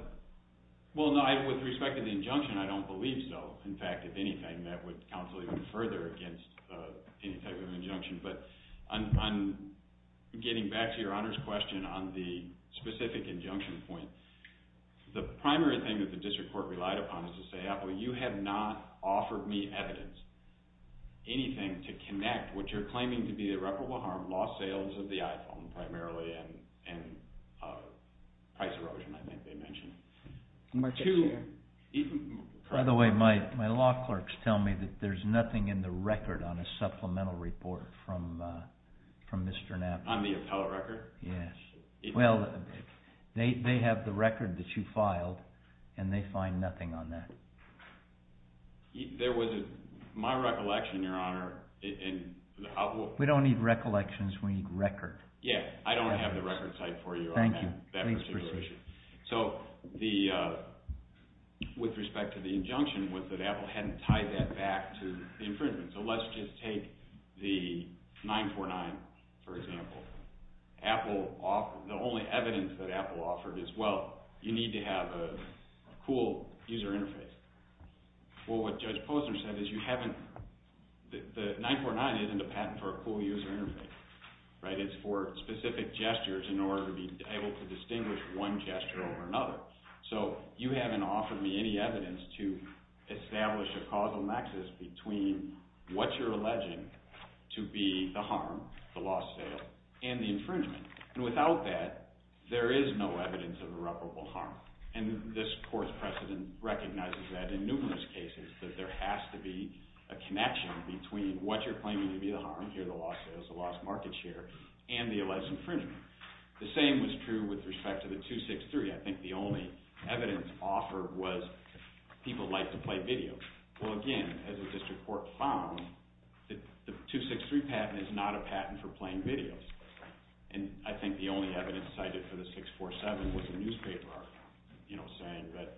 Well, no, with respect to the injunction, I don't believe so. In fact, if anything, that would counsel even further against any type of injunction. But on getting back to your honors question on the specific injunction point, the primary thing that the district court relied upon is to say, Mr. Napoli, you have not offered me evidence, anything, to connect what you're claiming to be irreparable harm, lost sales of the iPhone primarily, and price erosion, I think they mentioned. By the way, my law clerks tell me that there's nothing in the record on a supplemental report from Mr. Napoli. On the appellate record? Yes. Well, they have the record that you filed, and they find nothing on that. There was a, my recollection, your honor. We don't need recollections, we need record. Yeah, I don't have the record type for you on that particular issue. Thank you. Please proceed. So the, with respect to the injunction, was that Apple hadn't tied that back to the infringement. So let's just take the 949, for example. Apple, the only evidence that Apple offered is, well, you need to have a cool user interface. Well, what Judge Posner said is you haven't, the 949 isn't a patent for a cool user interface, right? It's for specific gestures in order to be able to distinguish one gesture over another. So you haven't offered me any evidence to establish a causal nexus between what you're alleging to be the harm, the lost sale, and the infringement. And without that, there is no evidence of irreparable harm. And this court's precedent recognizes that in numerous cases, that there has to be a connection between what you're claiming to be the harm, here the lost sale, the lost market share, and the alleged infringement. The same was true with respect to the 263. I think the only evidence offered was people like to play video. Well, again, as a district court found, the 263 patent is not a patent for playing video. And I think the only evidence cited for the 647 was the newspaper article, you know, saying that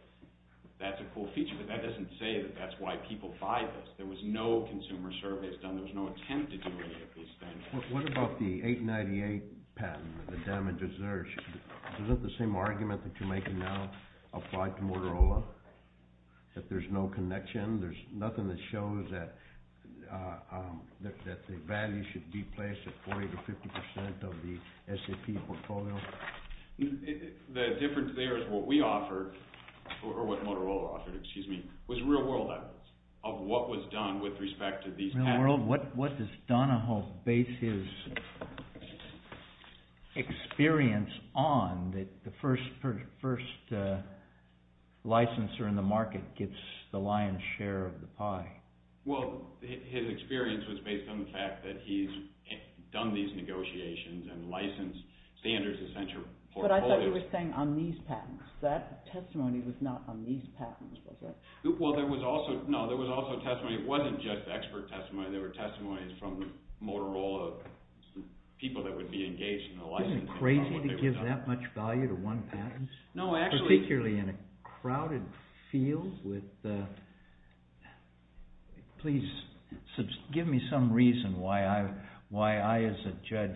that's a cool feature. But that doesn't say that that's why people buy this. There was no consumer surveys done. There was no attempt to do any of these things. What about the 898 patent, the damages there? Is that the same argument that you're making now applied to Motorola, that there's no connection? There's nothing that shows that the value should be placed at 40% to 50% of the SAP portfolio? The difference there is what we offered, or what Motorola offered, excuse me, was real-world evidence of what was done with respect to these patents. What does Donahoe base his experience on, that the first licensor in the market gets the lion's share of the pie? Well, his experience was based on the fact that he's done these negotiations and licensed standards of censure portfolios. But I thought you were saying on these patents. That testimony was not on these patents, was it? Well, there was also, no, there was also testimony. It wasn't just expert testimony. There were testimonies from Motorola, people that would be engaged in the licensing process. Isn't it crazy to give that much value to one patent? No, actually. Particularly in a crowded field with, please, give me some reason why I, as a judge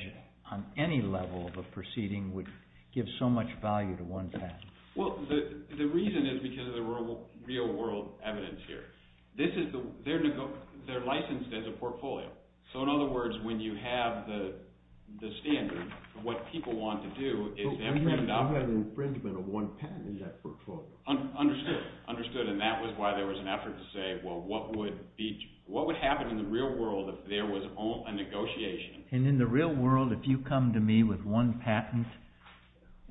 on any level of a proceeding, would give so much value to one patent. Well, the reason is because of the real-world evidence here. This is, they're licensed as a portfolio. So, in other words, when you have the standard, what people want to do is infringe on it. You have infringement of one patent in that portfolio. Understood. Understood, and that was why there was an effort to say, well, what would happen in the real world if there was a negotiation? And in the real world, if you come to me with one patent,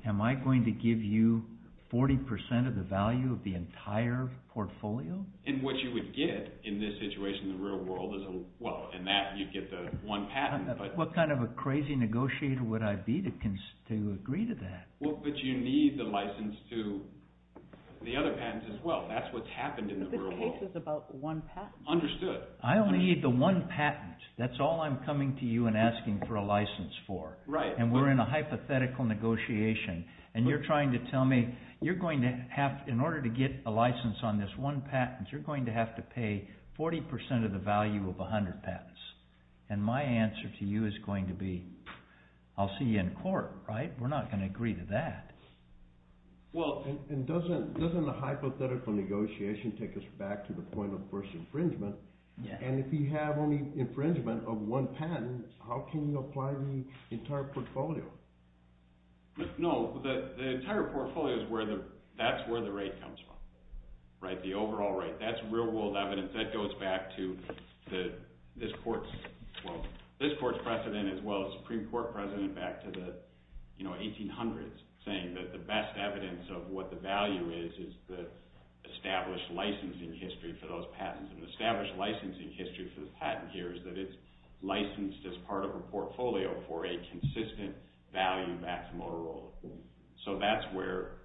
am I going to give you 40% of the value of the entire portfolio? And what you would get in this situation in the real world is, well, in that you get the one patent. What kind of a crazy negotiator would I be to agree to that? Well, but you need the license to the other patents as well. That's what's happened in the real world. But the case is about one patent. Understood. I only need the one patent. That's all I'm coming to you and asking for a license for. Right. And we're in a hypothetical negotiation, and you're trying to tell me you're going to have, in order to get a license on this one patent, you're going to have to pay 40% of the value of 100 patents. And my answer to you is going to be, I'll see you in court, right? We're not going to agree to that. Well, and doesn't a hypothetical negotiation take us back to the point of first infringement? And if you have only infringement of one patent, how can you apply the entire portfolio? No, the entire portfolio is where the – that's where the rate comes from, right? The overall rate. That's real-world evidence. That goes back to this court's – well, this court's precedent as well as the Supreme Court precedent back to the 1800s, saying that the best evidence of what the value is is the established licensing history for those patents. And the established licensing history for this patent here is that it's licensed as part of a portfolio for a consistent value-maximal rule. So that's where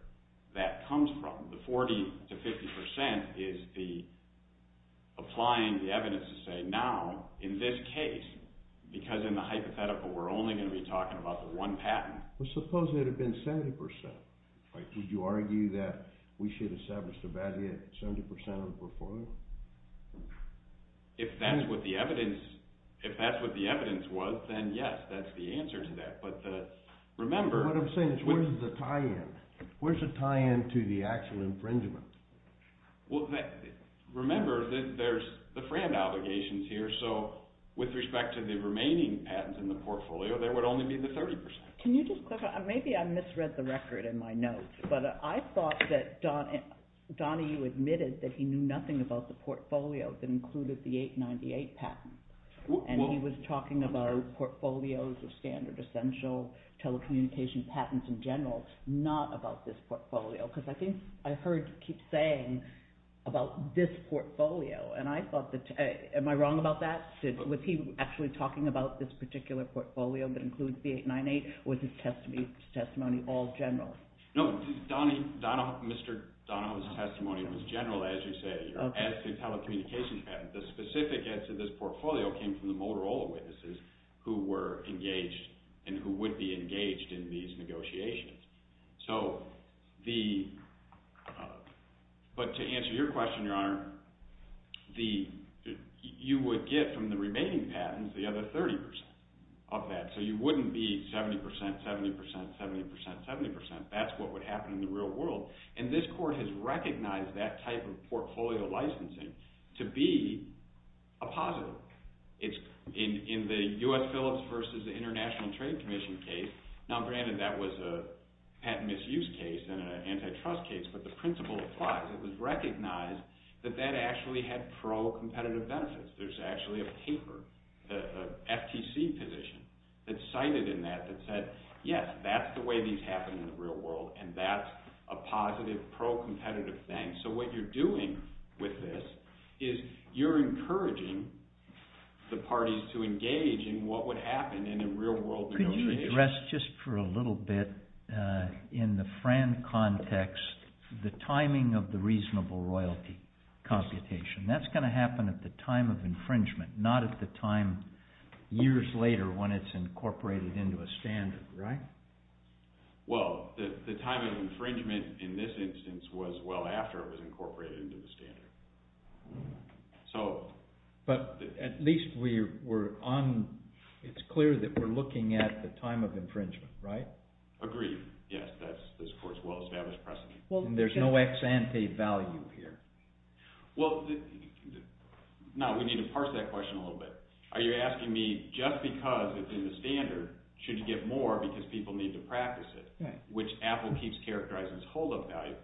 that comes from. The 40% to 50% is the – applying the evidence to say now, in this case, because in the hypothetical we're only going to be talking about the one patent. Well, suppose it had been 70%. Would you argue that we should have established a value at 70% of the portfolio? If that's what the evidence – if that's what the evidence was, then yes, that's the answer to that. But remember – Well, remember that there's the FRAND obligations here. So with respect to the remaining patents in the portfolio, there would only be the 30%. Can you just clarify? Maybe I misread the record in my notes, but I thought that Donnie, you admitted that he knew nothing about the portfolio that included the 898 patent. And he was talking about portfolios of standard, essential, telecommunications patents in general, not about this portfolio. Because I think I heard you keep saying about this portfolio, and I thought that – am I wrong about that? Was he actually talking about this particular portfolio that includes the 898, or was his testimony all general? No, Donnie – Mr. Donohue's testimony was general, as you say, as to telecommunications patents. The specific answer to this portfolio came from the Motorola witnesses who were engaged and who would be engaged in these negotiations. But to answer your question, Your Honor, you would get from the remaining patents the other 30% of that. So you wouldn't be 70%, 70%, 70%, 70%. That's what would happen in the real world. And this court has recognized that type of portfolio licensing to be a positive. In the U.S. Phillips v. International Trade Commission case – now, granted, that was a patent misuse case and an antitrust case, but the principle applies. It was recognized that that actually had pro-competitive benefits. There's actually a paper, the FTC position, that cited in that that said, yes, that's the way these happen in the real world, and that's a positive, pro-competitive thing. So what you're doing with this is you're encouraging the parties to engage in what would happen in a real-world negotiation. Could you address just for a little bit, in the Fran context, the timing of the reasonable royalty computation? That's going to happen at the time of infringement, not at the time years later when it's incorporated into a standard, right? Well, the timing of infringement in this instance was well after it was incorporated into the standard. But at least we're on – it's clear that we're looking at the time of infringement, right? Agreed. Yes, that's this court's well-established precedent. And there's no ex ante value here? Well, no, we need to parse that question a little bit. Are you asking me just because it's in the standard should you get more because people need to practice it, which Apple keeps characterizing as hold-up value?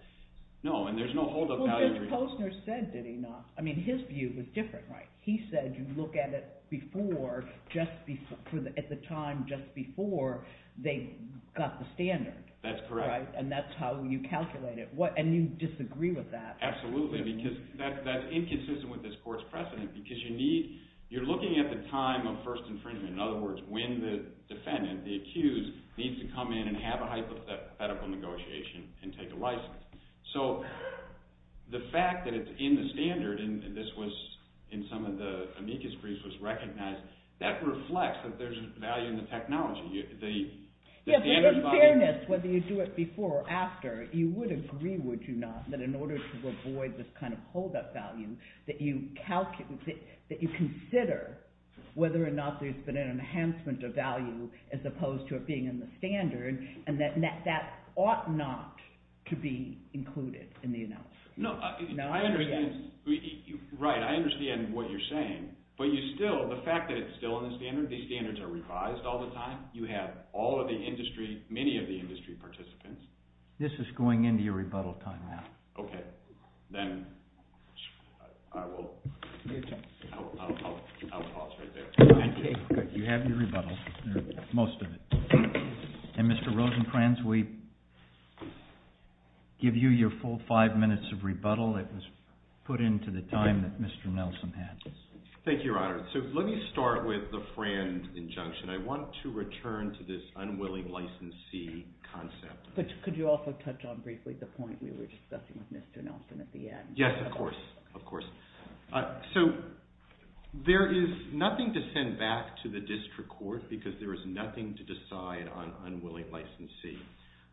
No, and there's no hold-up value. Well, Judge Posner said, did he not? I mean, his view was different, right? He said you look at it before, at the time just before they got the standard. That's correct. And that's how you calculate it. And you disagree with that. Absolutely, because that's inconsistent with this court's precedent because you need – you're looking at the time of first infringement. In other words, when the defendant, the accused, needs to come in and have a hypothetical negotiation and take a license. So the fact that it's in the standard and this was in some of the amicus briefs was recognized, that reflects that there's value in the technology. In fairness, whether you do it before or after, you would agree, would you not, that in order to avoid this kind of hold-up value, that you consider whether or not there's been an enhancement of value as opposed to it being in the standard and that that ought not to be included in the analysis. No, I understand. Right, I understand what you're saying. But you still – the fact that it's still in the standard, these standards are revised all the time, you have all of the industry, many of the industry participants. This is going into your rebuttal time now. Okay, then I will – I'll pause right there. You have your rebuttal, most of it. And Mr. Rosenkranz, we give you your full five minutes of rebuttal. It was put into the time that Mr. Nelson had. Thank you, Your Honor. So let me start with the Frand injunction. I want to return to this unwilling licensee concept. But could you also touch on briefly the point we were discussing with Mr. Nelson at the end? Yes, of course, of course. So there is nothing to send back to the district court because there is nothing to decide on unwilling licensee.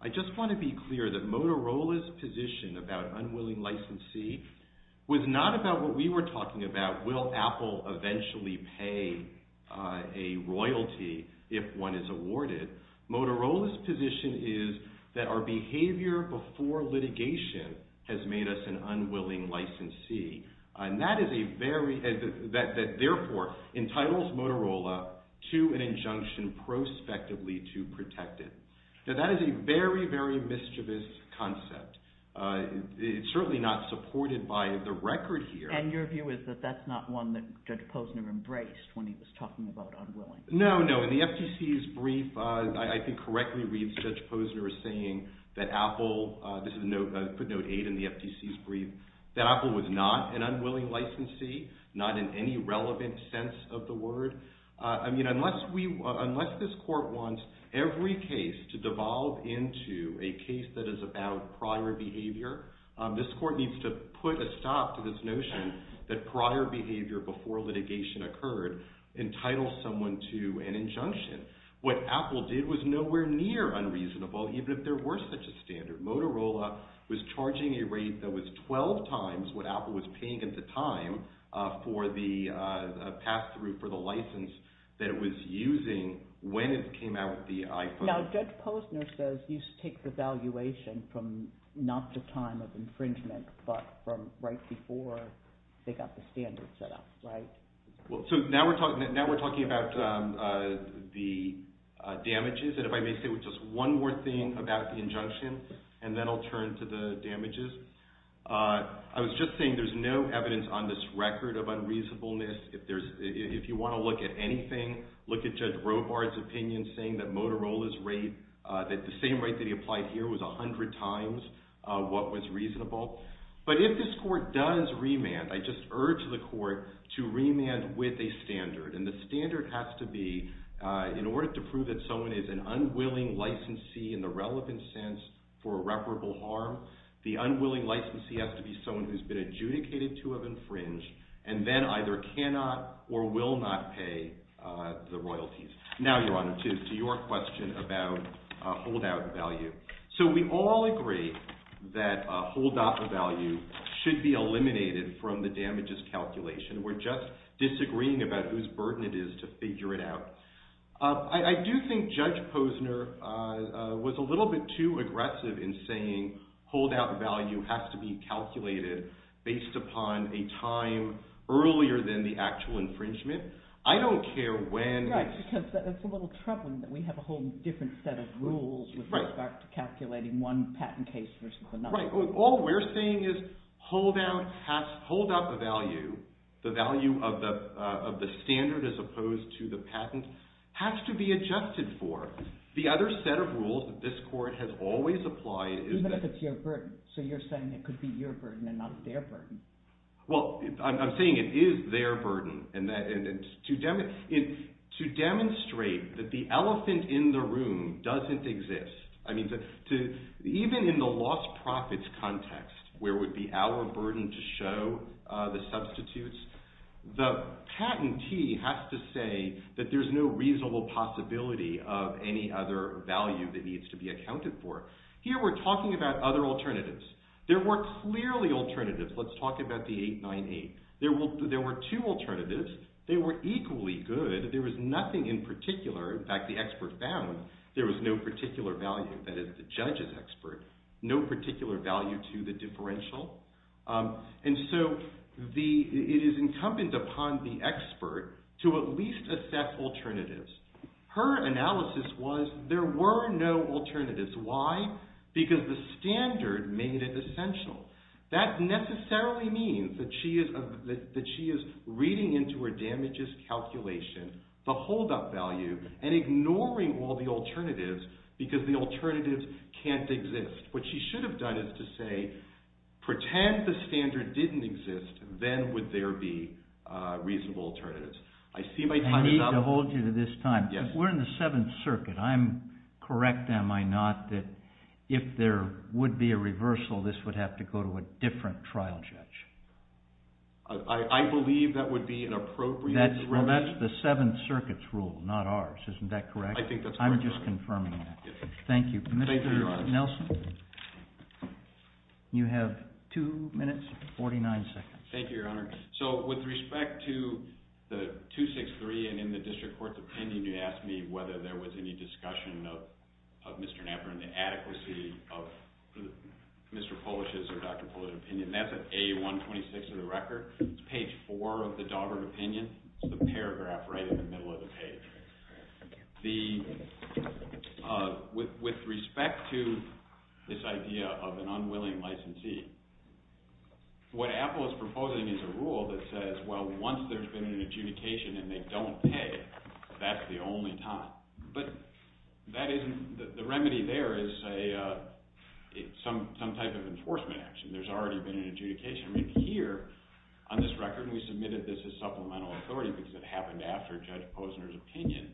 I just want to be clear that Motorola's position about unwilling licensee was not about what we were talking about, will Apple eventually pay a royalty if one is awarded. Motorola's position is that our behavior before litigation has made us an unwilling licensee. And that is a very – that therefore entitles Motorola to an injunction prospectively to protect it. Now, that is a very, very mischievous concept. It's certainly not supported by the record here. And your view is that that's not one that Judge Posner embraced when he was talking about unwilling. No, no. In the FTC's brief, I think correctly reads Judge Posner as saying that Apple – this is a note – I put note 8 in the FTC's brief – that Apple was not an unwilling licensee, not in any relevant sense of the word. I mean, unless we – unless this court wants every case to devolve into a case that is about prior behavior, this court needs to put a stop to this notion that prior behavior before litigation occurred entitles someone to an injunction. What Apple did was nowhere near unreasonable, even if there were such a standard. Motorola was charging a rate that was 12 times what Apple was paying at the time for the pass-through for the license that it was using when it came out with the iPhone. Now, Judge Posner says he takes evaluation from not the time of infringement, but from right before they got the standard set up, right? So now we're talking about the damages. And if I may say just one more thing about the injunction, and then I'll turn to the damages. I was just saying there's no evidence on this record of unreasonableness. If you want to look at anything, look at Judge Robart's opinion saying that Motorola's rate, that the same rate that he applied here was 100 times what was reasonable. But if this court does remand, I just urge the court to remand with a standard. And the standard has to be, in order to prove that someone is an unwilling licensee in the relevant sense for irreparable harm, the unwilling licensee has to be someone who's been adjudicated to have infringed and then either cannot or will not pay the royalties. Now, Your Honor, to your question about holdout value. So we all agree that a holdout value should be eliminated from the damages calculation. We're just disagreeing about whose burden it is to figure it out. I do think Judge Posner was a little bit too aggressive in saying holdout value has to be calculated based upon a time earlier than the actual infringement. I don't care when. Right, because it's a little troubling that we have a whole different set of rules with respect to calculating one patent case versus another. That's right. All we're saying is holdout value, the value of the standard as opposed to the patent, has to be adjusted for. The other set of rules that this court has always applied is that – Even if it's your burden. So you're saying it could be your burden and not their burden. Well, I'm saying it is their burden. To demonstrate that the elephant in the room doesn't exist, even in the lost profits context where it would be our burden to show the substitutes, the patentee has to say that there's no reasonable possibility of any other value that needs to be accounted for. Here we're talking about other alternatives. There were clearly alternatives. Let's talk about the 898. There were two alternatives. They were equally good. There was nothing in particular. In fact, the expert found there was no particular value. That is, the judge is expert. No particular value to the differential. And so it is incumbent upon the expert to at least assess alternatives. Her analysis was there were no alternatives. Why? Because the standard made it essential. That necessarily means that she is reading into her damages calculation the holdup value and ignoring all the alternatives because the alternatives can't exist. What she should have done is to say, pretend the standard didn't exist, then would there be reasonable alternatives. I see my time is up. I need to hold you to this time. Yes. We're in the Seventh Circuit. I'm correct, am I not, that if there would be a reversal, this would have to go to a different trial judge? I believe that would be an appropriate remedy. Well, that's the Seventh Circuit's rule, not ours. Isn't that correct? I think that's correct. I'm just confirming that. Yes. Thank you. Thank you, Your Honor. Mr. Nelson, you have two minutes and 49 seconds. Thank you, Your Honor. So with respect to the 263 and in the District Court's opinion, you asked me whether there was any discussion of Mr. Knapper and the adequacy of Mr. Polish's or Dr. Polish's opinion. That's at A126 of the record. It's page 4 of the Daugherty opinion. It's the paragraph right in the middle of the page. With respect to this idea of an unwilling licensee, what Apple is proposing is a rule that says, well, once there's been an adjudication and they don't pay, that's the only time. But that isn't – the remedy there is some type of enforcement action. There's already been an adjudication. On this record, we submitted this as supplemental authority because it happened after Judge Posner's opinion.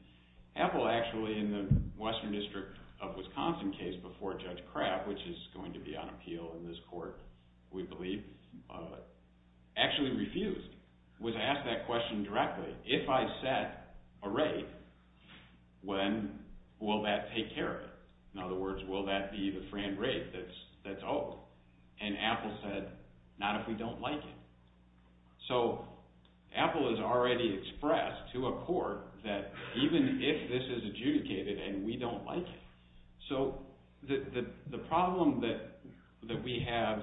Apple actually, in the Western District of Wisconsin case before Judge Kraft, which is going to be on appeal in this court, we believe, actually refused. It was asked that question directly. If I set a rate, when will that take care of it? In other words, will that be the fran rate that's owed? And Apple said, not if we don't like it. So Apple has already expressed to a court that even if this is adjudicated and we don't like it. So the problem that we have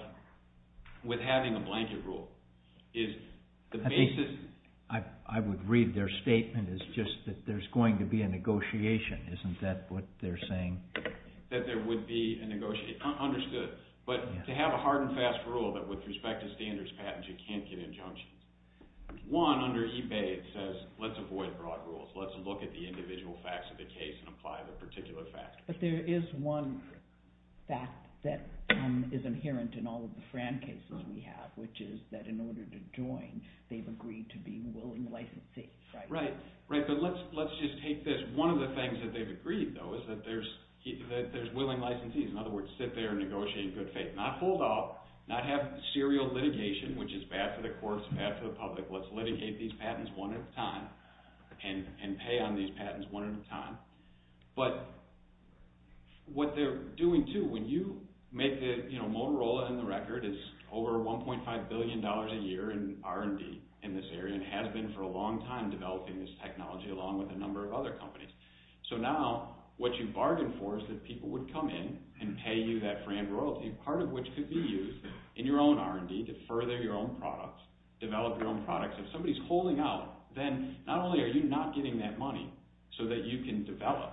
with having a blanket rule is the basis – I would read their statement as just that there's going to be a negotiation. Isn't that what they're saying? That there would be a negotiation. Understood. But to have a hard and fast rule that with respect to standards patents you can't get injunctioned. One, under eBay, it says let's avoid broad rules. Let's look at the individual facts of the case and apply the particular facts. But there is one fact that is inherent in all of the fran cases we have, which is that in order to join, they've agreed to be willing to licensee. Right, but let's just take this. One of the things that they've agreed, though, is that there's willing licensees. In other words, sit there and negotiate in good faith. Not hold off, not have serial litigation, which is bad for the courts, bad for the public. Let's litigate these patents one at a time and pay on these patents one at a time. But what they're doing, too, when you make – Motorola in the record is over $1.5 billion a year in R&D in this area and has been for a long time developing this technology along with a number of other companies. So now what you bargained for is that people would come in and pay you that fran royalty, part of which could be used in your own R&D to further your own products, develop your own products. If somebody's holding out, then not only are you not getting that money so that you can develop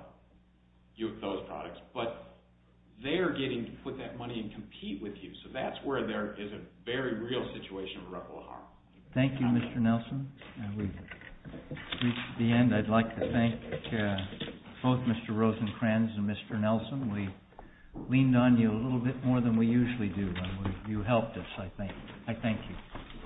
those products, but they're getting to put that money and compete with you. So that's where there is a very real situation of a ripple of harm. Thank you, Mr. Nelson. We've reached the end. I'd like to thank both Mr. Rosenkranz and Mr. Nelson. We leaned on you a little bit more than we usually do, and you helped us, I think. I thank you.